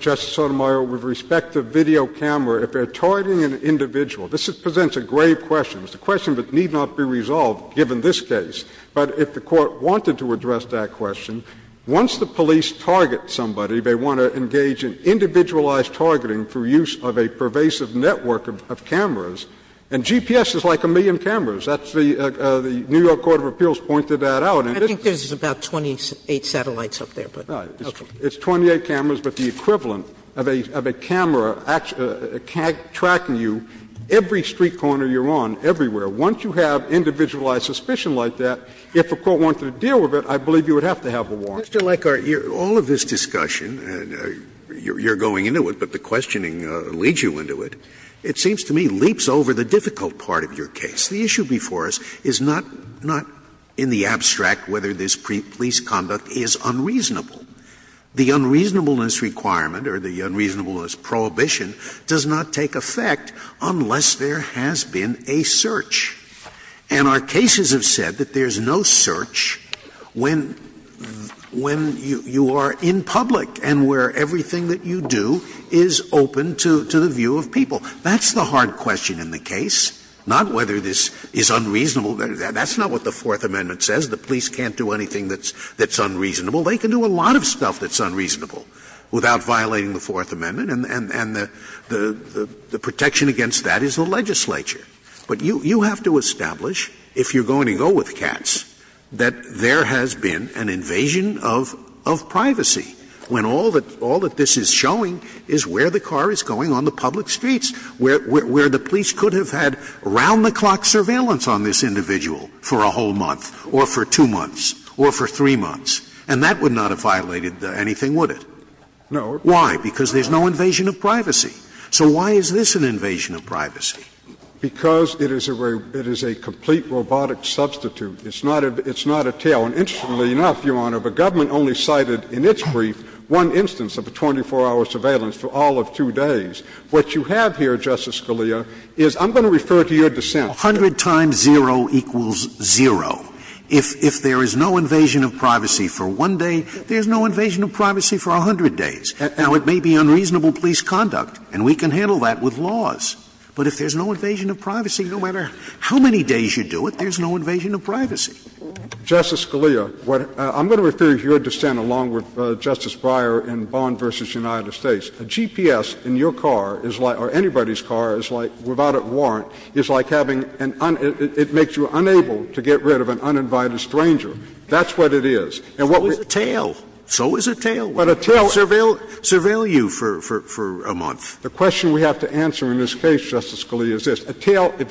Justice Sotomayor, with respect to video camera, if they're targeting an individual, this presents a grave question. It's a question that need not be resolved, given this case. But if the Court wanted to address that question, once the police target somebody, they want to engage in individualized targeting through use of a pervasive network of cameras. And GPS is like a million cameras. That's the – the New York Court of Appeals pointed that out. I think there's about 28 satellites up there, but – It's 28 cameras, but the equivalent of a camera tracking you, every street corner you're on, everywhere. Once you have individualized suspicion like that, if the Court wanted to deal with it, I believe you would have to have a warrant. Mr. Leckar, all of this discussion, and you're going into it, but the questioning leads you into it, it seems to me leaps over the difficult part of your case. The issue before us is not in the abstract whether this police conduct is unreasonable. The unreasonableness requirement, or the unreasonableness prohibition, does not take effect unless there has been a search. And our cases have said that there's no search when you are in public and where everything that you do is open to the view of people. That's the hard question in the case, not whether this is unreasonable. That's not what the Fourth Amendment says. The police can't do anything that's unreasonable. They can do a lot of stuff that's unreasonable without violating the Fourth Amendment, and the protection against that is the legislature. But you have to establish, if you're going to go with cats, that there has been an invasion of privacy when all that this is showing is where the car is going on the public streets, where the police could have had round-the-clock surveillance on this individual for a whole month, or for two months, or for three months, and that would not have violated anything, would it? No. Why? Because there's no invasion of privacy. So why is this an invasion of privacy? Because it is a complete robotic substitute. It's not a tail. And interestingly enough, Your Honor, the government only cited in its brief one instance of a 24-hour surveillance for all of two days. What you have here, Justice Scalia, is – I'm going to refer to your dissent. A hundred times zero equals zero. If there is no invasion of privacy for one day, there's no invasion of privacy for a hundred days. Now, it may be unreasonable police conduct, and we can handle that with laws. But if there's no invasion of privacy, no matter how many days you do it, there's no invasion of privacy. Justice Scalia, I'm going to refer to your dissent along with Justice Breyer in Bond v. United States. A GPS in your car is like – or anybody's car is like, without a warrant, is like having an – it makes you unable to get rid of an uninvited stranger. That's what it is. And what we're – So is a tail. So is a tail. But a tail – Surveil you for a month. The question we have to answer in this case, Justice Scalia, is this. A tail – if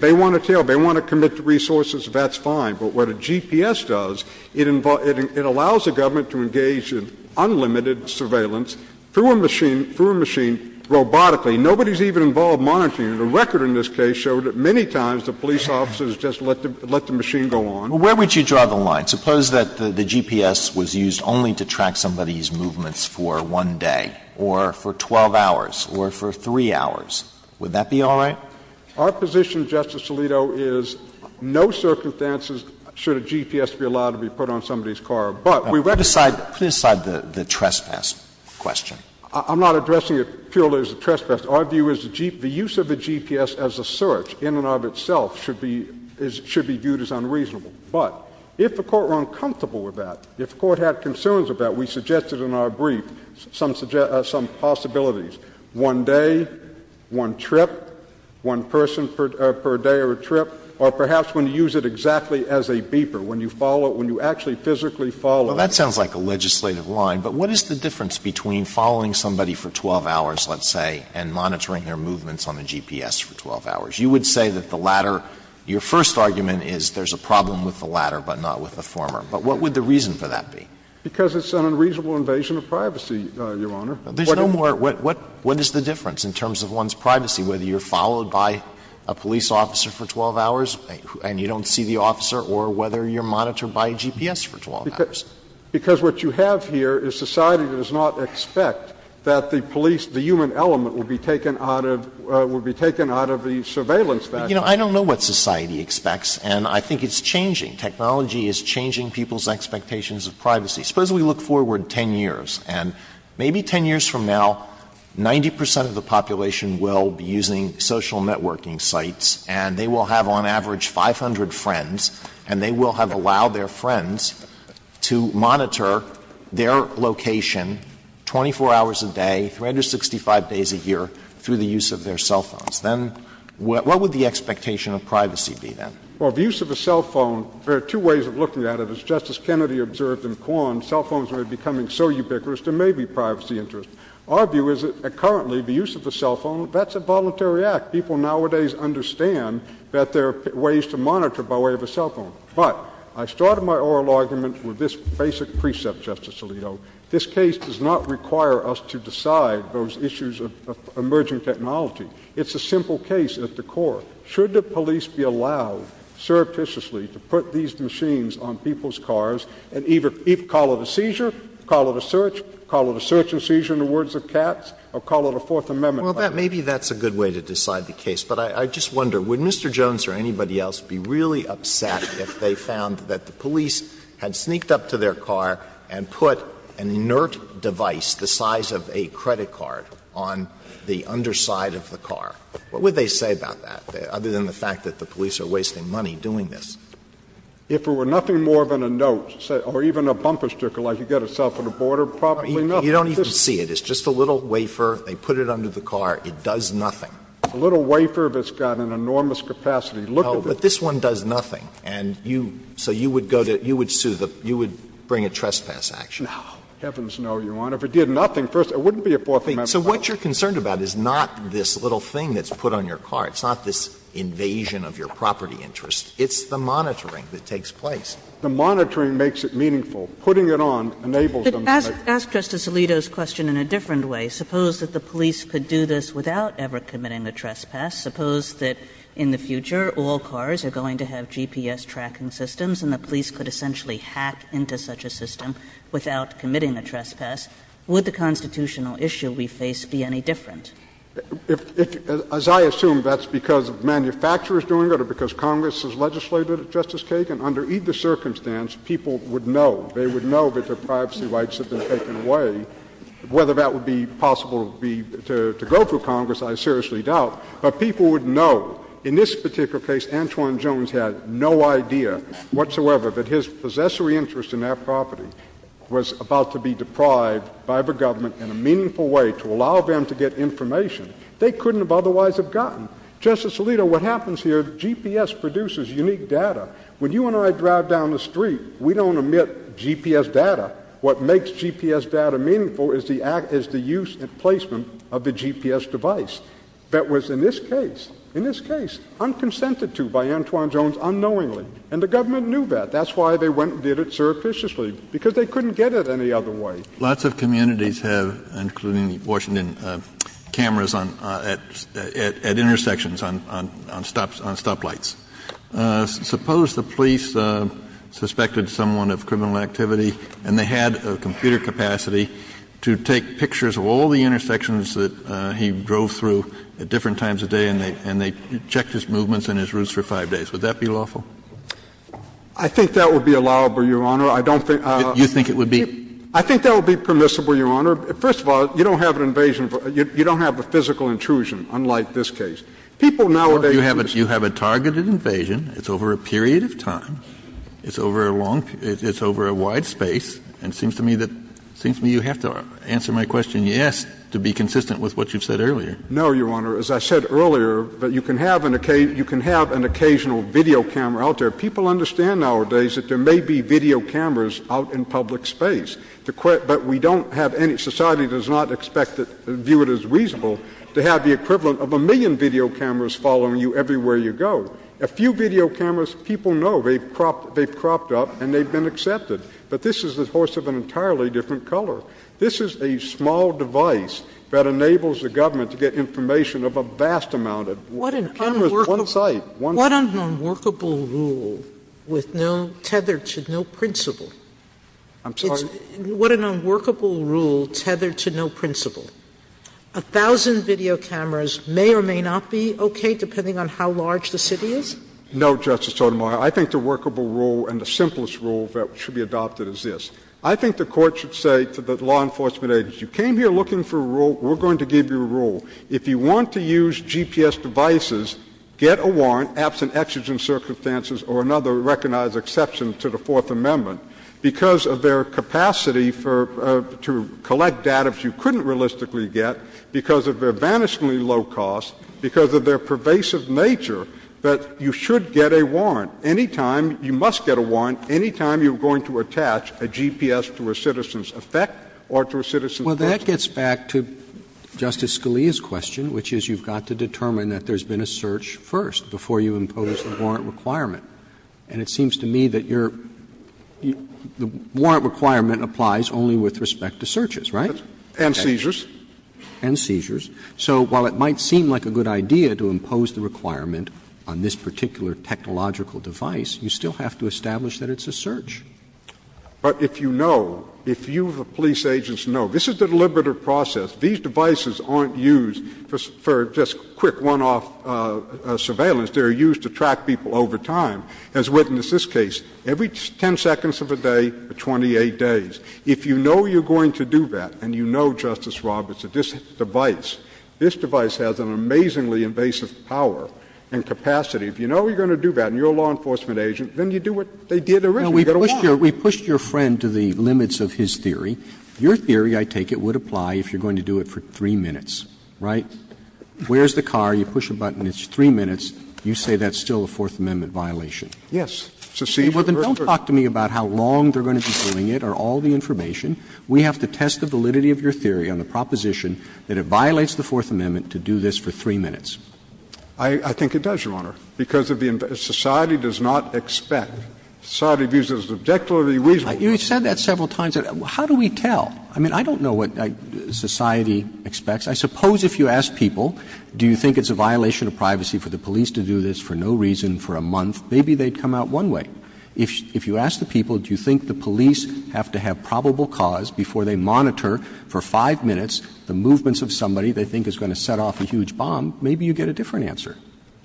they want a tail, if they want to commit to resources, that's fine. But what a GPS does, it allows the government to engage in unlimited surveillance through a machine, through a machine, robotically. Nobody's even involved monitoring it. The record in this case showed that many times the police officers just let the machine go on. Where would you draw the line? Suppose that the GPS was used only to track somebody's movements for one day or for 12 hours or for 3 hours. Would that be all right? Our position, Justice Alito, is no circumstances should a GPS be allowed to be put on somebody's car. But we recognize that. Put aside the trespass question. I'm not addressing it purely as a trespass. Our view is the use of a GPS as a search in and of itself should be viewed as unreasonable. But if the Court were uncomfortable with that, if the Court had concerns with that, we suggested in our brief some possibilities. One day, one trip, one person per day or trip, or perhaps when you use it exactly as a beeper, when you actually physically follow it. Alito, that sounds like a legislative line, but what is the difference between following somebody for 12 hours, let's say, and monitoring their movements on a GPS for 12 hours? You would say that the latter, your first argument is there's a problem with the latter, but not with the former. But what would the reason for that be? Because it's an unreasonable invasion of privacy, Your Honor. There's no more. What is the difference in terms of one's privacy, whether you're followed by a police officer for 12 hours and you don't see the officer, or whether you're monitored by a GPS for 12 hours? Because what you have here is society does not expect that the police, the human element, would be taken out of the surveillance factor. You know, I don't know what society expects, and I think it's changing. Technology is changing people's expectations of privacy. Suppose we look forward 10 years, and maybe 10 years from now, 90 percent of the population will be using social networking sites, and they will have, on average, 500 friends, and they will have allowed their friends to monitor their location 24 hours a day, 365 days a year, through the use of their cell phones. Then what would the expectation of privacy be, then? Well, the use of a cell phone, there are two ways of looking at it. As Justice Kennedy observed in Quan, cell phones are becoming so ubiquitous, there may be privacy interests. Our view is that currently the use of a cell phone, that's a voluntary act. People nowadays understand that there are ways to monitor by way of a cell phone. But I started my oral argument with this basic precept, Justice Alito. This case does not require us to decide those issues of emerging technology. It's a simple case at the core. Should the police be allowed surreptitiously to put these machines on people's cars and either call it a seizure, call it a search, call it a search and seizure in the words of Katz, or call it a Fourth Amendment violation? Well, maybe that's a good way to decide the case. But I just wonder, would Mr. Jones or anybody else be really upset if they found that the police had sneaked up to their car and put an inert device the size of a credit card on the underside of the car? What would they say about that, other than the fact that the police are wasting money doing this? If it were nothing more than a note or even a bumper sticker like you get at South of the Border, probably nothing. You don't even see it. It's just a little wafer. They put it under the car. It does nothing. A little wafer that's got an enormous capacity. Look at this. No, but this one does nothing. And you so you would go to you would sue the you would bring a trespass action. No. Heavens no, Your Honor. If it did nothing, first it wouldn't be a Fourth Amendment violation. So what you're concerned about is not this little thing that's put on your car. It's not this invasion of your property interest. It's the monitoring that takes place. The monitoring makes it meaningful. Putting it on enables them to make it. But ask Justice Alito's question in a different way. Suppose that the police could do this without ever committing a trespass. Suppose that in the future all cars are going to have GPS tracking systems and the police could essentially hack into such a system without committing a trespass. Would the constitutional issue we face be any different? If, as I assume, that's because the manufacturer is doing it or because Congress has legislated it, Justice Kagan, under either circumstance, people would know. They would know that their privacy rights have been taken away. Whether that would be possible to go through Congress, I seriously doubt. But people would know. In this particular case, Antwon Jones had no idea whatsoever that his possessory interest in that property was about to be deprived by the government in a meaningful way to allow them to get information they couldn't have otherwise have gotten. Justice Alito, what happens here, GPS produces unique data. When you and I drive down the street, we don't omit GPS data. What makes GPS data meaningful is the use and placement of the GPS device. That was in this case, in this case, unconsented to by Antwon Jones unknowingly. And the government knew that. That's why they went and did it surreptitiously. Because they couldn't get it any other way. Lots of communities have, including Washington, cameras at intersections on stoplights. Suppose the police suspected someone of criminal activity and they had a computer capacity to take pictures of all the intersections that he drove through at different times of day and they checked his movements and his routes for five days. Would that be lawful? I think that would be allowable, Your Honor. I don't think you think it would be. I think that would be permissible, Your Honor. First of all, you don't have an invasion. You don't have a physical intrusion, unlike this case. People nowadays. You have a targeted invasion. It's over a period of time. It's over a long, it's over a wide space. And it seems to me that, it seems to me you have to answer my question yes to be consistent with what you've said earlier. No, Your Honor. As I said earlier, that you can have an occasion, you can have an occasional video camera out there. People understand nowadays that there may be video cameras out in public space. The, but we don't have any, society does not expect it, view it as reasonable to have the equivalent of a million video cameras following you everywhere you go. A few video cameras, people know, they've cropped, they've cropped up and they've been accepted. But this is the horse of an entirely different color. This is a small device that enables the government to get information of a vast amount of cameras, one site, one. What an unworkable rule with no, tethered to no principle. I'm sorry? What an unworkable rule tethered to no principle. A thousand video cameras may or may not be okay, depending on how large the city is? No, Justice Sotomayor. I think the workable rule and the simplest rule that should be adopted is this. I think the Court should say to the law enforcement agents, you came here looking for a rule, we're going to give you a rule. If you want to use GPS devices, get a warrant, absent exigent circumstances or another recognized exception to the Fourth Amendment. Because of their capacity for to collect data that you couldn't realistically get, because of their vanishingly low cost, because of their pervasive nature, that you should get a warrant any time, you must get a warrant any time you're going to attach a GPS to a citizen's effect or to a citizen's purpose. Well, that gets back to Justice Scalia's question, which is you've got to determine that there's been a search first before you impose the warrant requirement. And it seems to me that your – the warrant requirement applies only with respect to searches, right? And seizures. And seizures. So while it might seem like a good idea to impose the requirement on this particular technological device, you still have to establish that it's a search. But if you know, if you, the police agents, know this is a deliberative process, these devices aren't used for just quick one-off surveillance. They're used to track people over time, as witnessed in this case, every 10 seconds of a day for 28 days. If you know you're going to do that, and you know, Justice Roberts, that this device – this device has an amazingly invasive power and capacity, if you know you're going to do that and you're a law enforcement agent, then you do what they did originally. You get a warrant. Roberts. We pushed your friend to the limits of his theory. Your theory, I take it, would apply if you're going to do it for 3 minutes, right? Where's the car? You push a button. It's 3 minutes. You say that's still a Fourth Amendment violation. Yes. Well, then don't talk to me about how long they're going to be doing it or all the information. We have to test the validity of your theory on the proposition that it violates the Fourth Amendment to do this for 3 minutes. I think it does, Your Honor, because if the society does not expect, society views it as objectively reasonable. You've said that several times. How do we tell? I mean, I don't know what society expects. I suppose if you ask people, do you think it's a violation of privacy for the police to do this for no reason for a month, maybe they'd come out one way. If you ask the people, do you think the police have to have probable cause before they monitor for 5 minutes the movements of somebody they think is going to set off a huge bomb, maybe you get a different answer.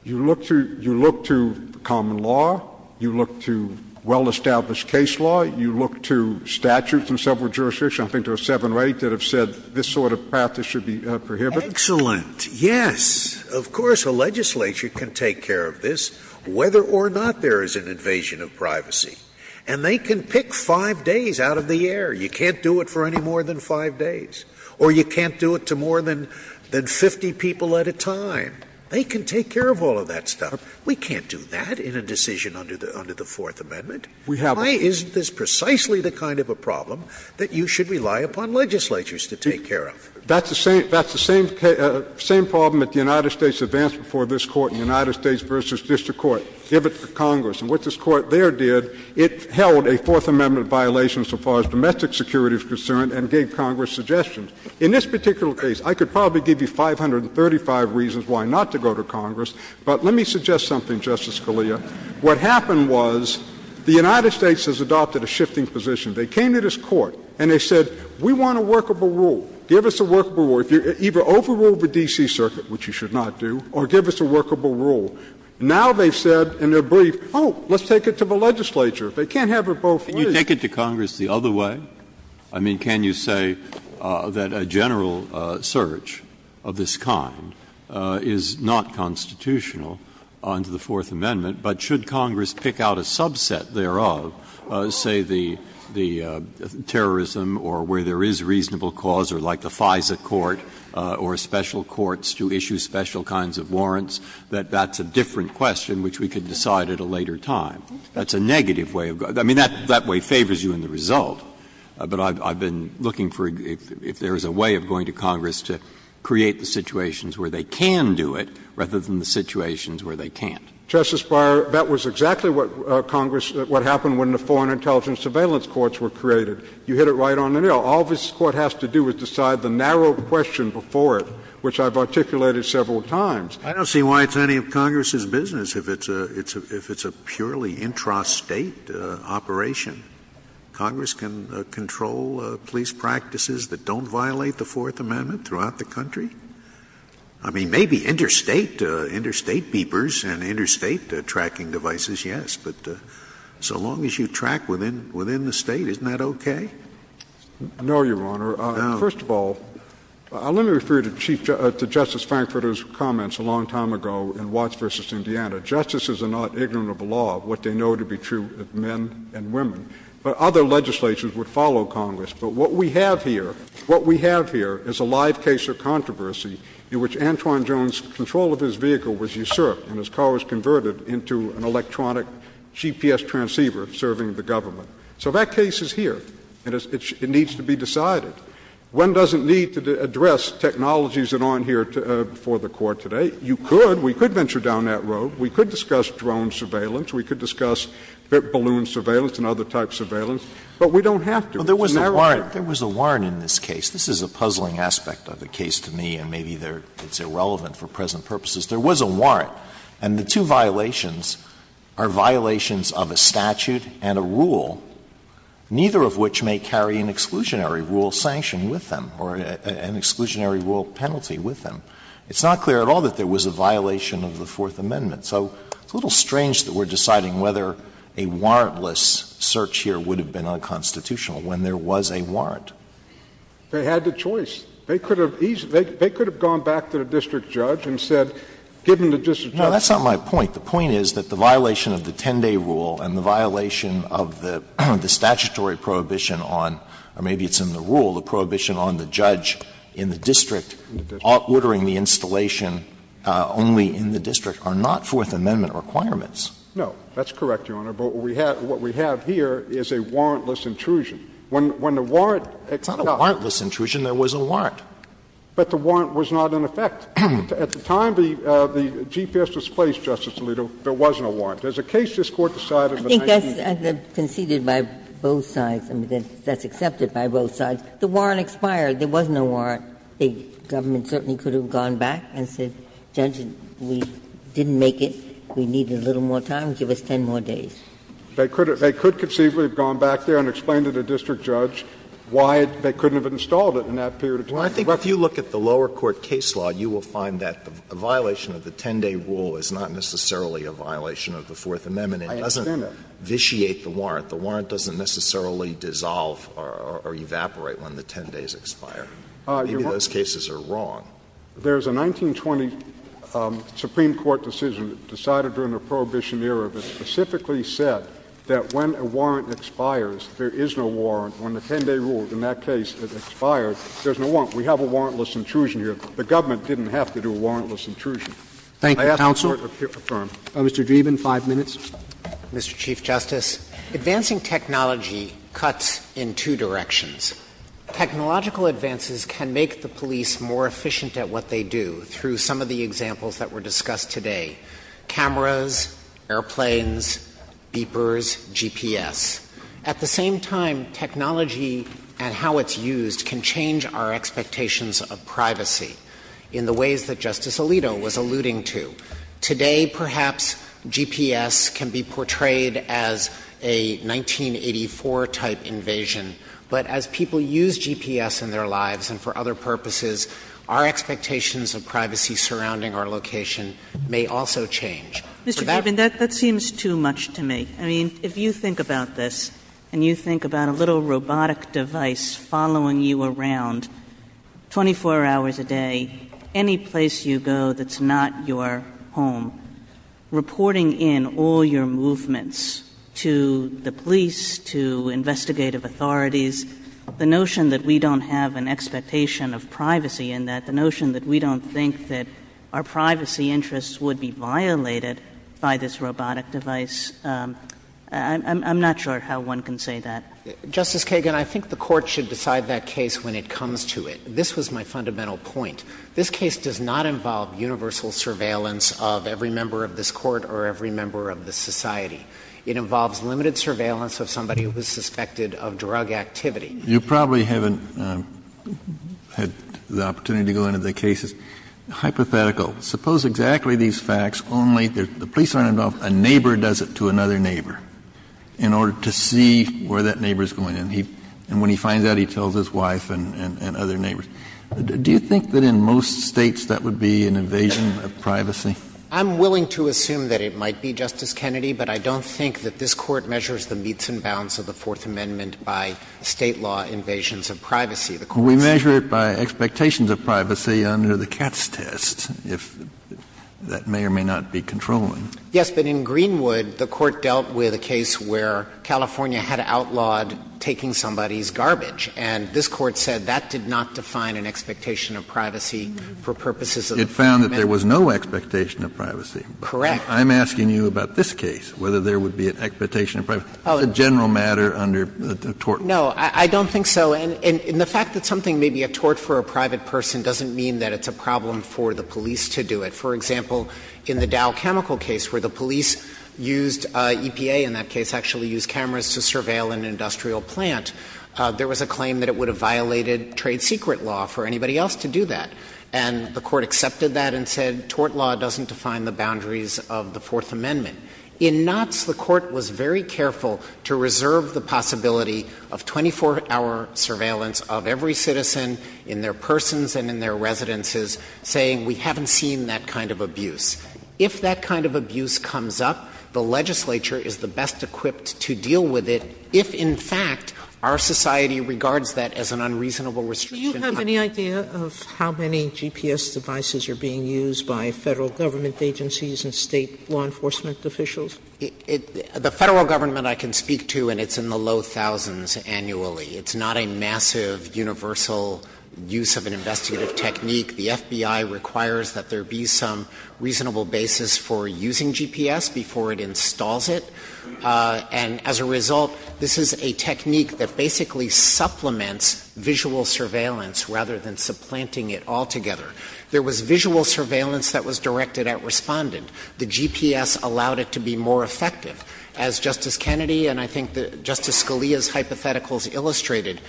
You look to common law, you look to well-established case law, you look to statutes in several jurisdictions, I think there are seven or eight that have said this sort of path that should be prohibited. Scalia. Excellent, yes. Of course a legislature can take care of this whether or not there is an invasion of privacy. And they can pick 5 days out of the air. You can't do it for any more than 5 days. Or you can't do it to more than 50 people at a time. They can take care of all of that stuff. We can't do that in a decision under the Fourth Amendment. Why isn't this precisely the kind of a problem that you should rely upon legislatures to take care of? That's the same problem that the United States advanced before this Court in United States v. District Court, give it to Congress. And what this Court there did, it held a Fourth Amendment violation so far as domestic security is concerned and gave Congress suggestions. In this particular case, I could probably give you 535 reasons why not to go to Congress, but let me suggest something, Justice Scalia. What happened was the United States has adopted a shifting position. They came to this Court and they said, we want a workable rule. Give us a workable rule. Either overrule the D.C. Circuit, which you should not do, or give us a workable rule. Now they've said in their brief, oh, let's take it to the legislature. They can't have it both ways. Breyer. Can you take it to Congress the other way? I mean, can you say that a general search of this kind is not constitutional under the Fourth Amendment, but should Congress pick out a subset thereof, say, where there is the terrorism or where there is reasonable cause, or like the FISA court or special courts to issue special kinds of warrants, that that's a different question which we could decide at a later time? That's a negative way of going. I mean, that way favors you in the result, but I've been looking for if there is a way of going to Congress to create the situations where they can do it rather than the situations where they can't. Justice Breyer, that was exactly what Congress — what happened when the Foreign Intelligence Surveillance Courts were created. You hit it right on the nail. All this Court has to do is decide the narrow question before it, which I've articulated several times. I don't see why it's any of Congress's business if it's a — if it's a purely intrastate operation. Congress can control police practices that don't violate the Fourth Amendment throughout the country. I mean, maybe interstate — interstate beepers and interstate tracking devices, yes, but so long as you track within — within the State, isn't that okay? No, Your Honor. First of all, let me refer you to Chief — to Justice Frankfurter's comments a long time ago in Watts v. Indiana. Justices are not ignorant of the law, of what they know to be true of men and women. But other legislations would follow Congress. But what we have here — what we have here is a live case of controversy. In which Antoine Jones' control of his vehicle was usurped, and his car was converted into an electronic GPS transceiver serving the government. So that case is here, and it needs to be decided. One doesn't need to address technologies that aren't here for the Court today. You could. We could venture down that road. We could discuss drone surveillance. We could discuss balloon surveillance and other types of surveillance. But we don't have to. It's narrowing. There was a warrant in this case. This is a puzzling aspect of the case to me, and maybe it's irrelevant for present purposes. There was a warrant. And the two violations are violations of a statute and a rule, neither of which may carry an exclusionary rule sanction with them or an exclusionary rule penalty with them. It's not clear at all that there was a violation of the Fourth Amendment. So it's a little strange that we're deciding whether a warrantless search here would have been unconstitutional when there was a warrant. They had the choice. They could have gone back to the district judge and said, given the district judge's rule. Alito, that's not my point. The point is that the violation of the 10-day rule and the violation of the statutory prohibition on, or maybe it's in the rule, the prohibition on the judge in the district ordering the installation only in the district are not Fourth Amendment requirements. No, that's correct, Your Honor. But what we have here is a warrantless intrusion. When the warrant expired. It's not a warrantless intrusion. There was a warrant. But the warrant was not in effect. At the time the GPS was placed, Justice Alito, there was no warrant. As a case, this Court decided in the 1980s. I think that's conceded by both sides. I mean, that's accepted by both sides. The warrant expired. There was no warrant. The government certainly could have gone back and said, Judge, we didn't make it. We needed a little more time. Give us 10 more days. They could have conceivably gone back there and explained to the district judge why they couldn't have installed it in that period of time. Alito, if you look at the lower court case law, you will find that the violation of the 10-day rule is not necessarily a violation of the Fourth Amendment. It doesn't vitiate the warrant. The warrant doesn't necessarily dissolve or evaporate when the 10 days expire. Maybe those cases are wrong. There's a 1920 Supreme Court decision decided during the Prohibition era that specifically said that when a warrant expires, there is no warrant. When the 10-day rule in that case expires, there's no warrant. We have a warrantless intrusion here. The government didn't have to do a warrantless intrusion. Thank you, counsel. May I ask the Court to confirm? Mr. Dreeben, 5 minutes. Mr. Chief Justice, advancing technology cuts in two directions. Technological advances can make the police more efficient at what they do through some of the examples that were discussed today. Cameras, airplanes, beepers, GPS. At the same time, technology and how it's used can change our expectations of privacy in the ways that Justice Alito was alluding to. Today, perhaps, GPS can be portrayed as a 1984-type invasion. But as people use GPS in their lives and for other purposes, our expectations of privacy surrounding our location may also change. Mr. Dreeben, that seems too much to me. I mean, if you think about this, and you think about a little robotic device following you around 24 hours a day, any place you go that's not your home, reporting in all your movements to the police, to investigative authorities, the notion that we don't have an expectation of privacy and that the notion that we don't think that our privacy interests would be violated by this robotic device, I'm not sure how one can say that. Justice Kagan, I think the Court should decide that case when it comes to it. This was my fundamental point. This case does not involve universal surveillance of every member of this Court or every member of this society. It involves limited surveillance of somebody who is suspected of drug activity. Kennedy, you probably haven't had the opportunity to go into the cases. Hypothetical. Suppose exactly these facts, only the police aren't involved, a neighbor does it to another neighbor in order to see where that neighbor is going. And when he finds out, he tells his wife and other neighbors. Do you think that in most States that would be an invasion of privacy? I'm willing to assume that it might be, Justice Kennedy, but I don't think that this is an invasion of privacy. We measure it by expectations of privacy under the Katz test, if that may or may not be controlling. Yes, but in Greenwood, the Court dealt with a case where California had outlawed taking somebody's garbage. And this Court said that did not define an expectation of privacy for purposes of the three amendments. It found that there was no expectation of privacy. Correct. I'm asking you about this case, whether there would be an expectation of privacy. It's a general matter under the tort law. No, I don't think so. And the fact that something may be a tort for a private person doesn't mean that it's a problem for the police to do it. For example, in the Dow Chemical case where the police used EPA in that case, actually used cameras to surveil an industrial plant, there was a claim that it would have violated trade secret law for anybody else to do that. And the Court accepted that and said tort law doesn't define the boundaries of the Fourth Amendment. In Knotts, the Court was very careful to reserve the possibility of 24-hour surveillance of every citizen in their persons and in their residences, saying we haven't seen that kind of abuse. If that kind of abuse comes up, the legislature is the best equipped to deal with it if, in fact, our society regards that as an unreasonable restriction. Do you have any idea of how many GPS devices are being used by Federal government agencies and State law enforcement officials? The Federal government I can speak to, and it's in the low thousands annually. It's not a massive, universal use of an investigative technique. The FBI requires that there be some reasonable basis for using GPS before it installs it, and as a result, this is a technique that basically supplements visual surveillance rather than supplanting it altogether. There was visual surveillance that was directed at Respondent. The GPS allowed it to be more effective. As Justice Kennedy and I think Justice Scalia's hypotheticals illustrated,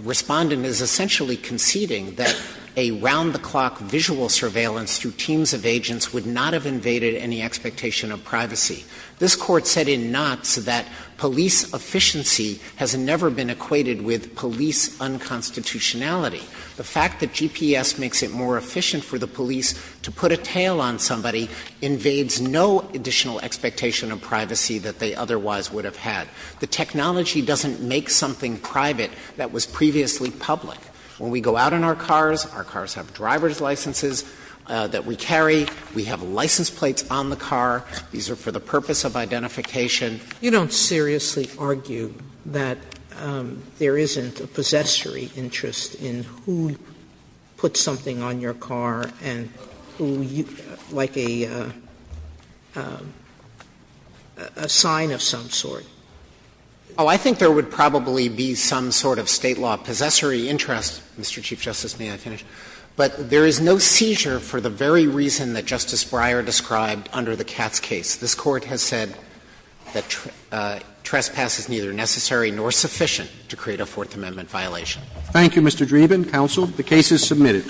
Respondent is essentially conceding that a round-the-clock visual surveillance through teams of agents would not have invaded any expectation of privacy. This Court said in Knotts that police efficiency has never been equated with police unconstitutionality. The fact that GPS makes it more efficient for the police to put a tail on somebody invades no additional expectation of privacy that they otherwise would have had. The technology doesn't make something private that was previously public. When we go out in our cars, our cars have driver's licenses that we carry. We have license plates on the car. These are for the purpose of identification. Sotomayor, you don't seriously argue that there isn't a possessory interest in who puts something on your car and who, like a sign of some sort? Oh, I think there would probably be some sort of State law possessory interest, Mr. Chief Justice. May I finish? But there is no seizure for the very reason that Justice Breyer described under the Katz case. This Court has said that trespass is neither necessary nor sufficient to create a Fourth Amendment violation. Thank you, Mr. Dreeben. Counsel, the case is submitted.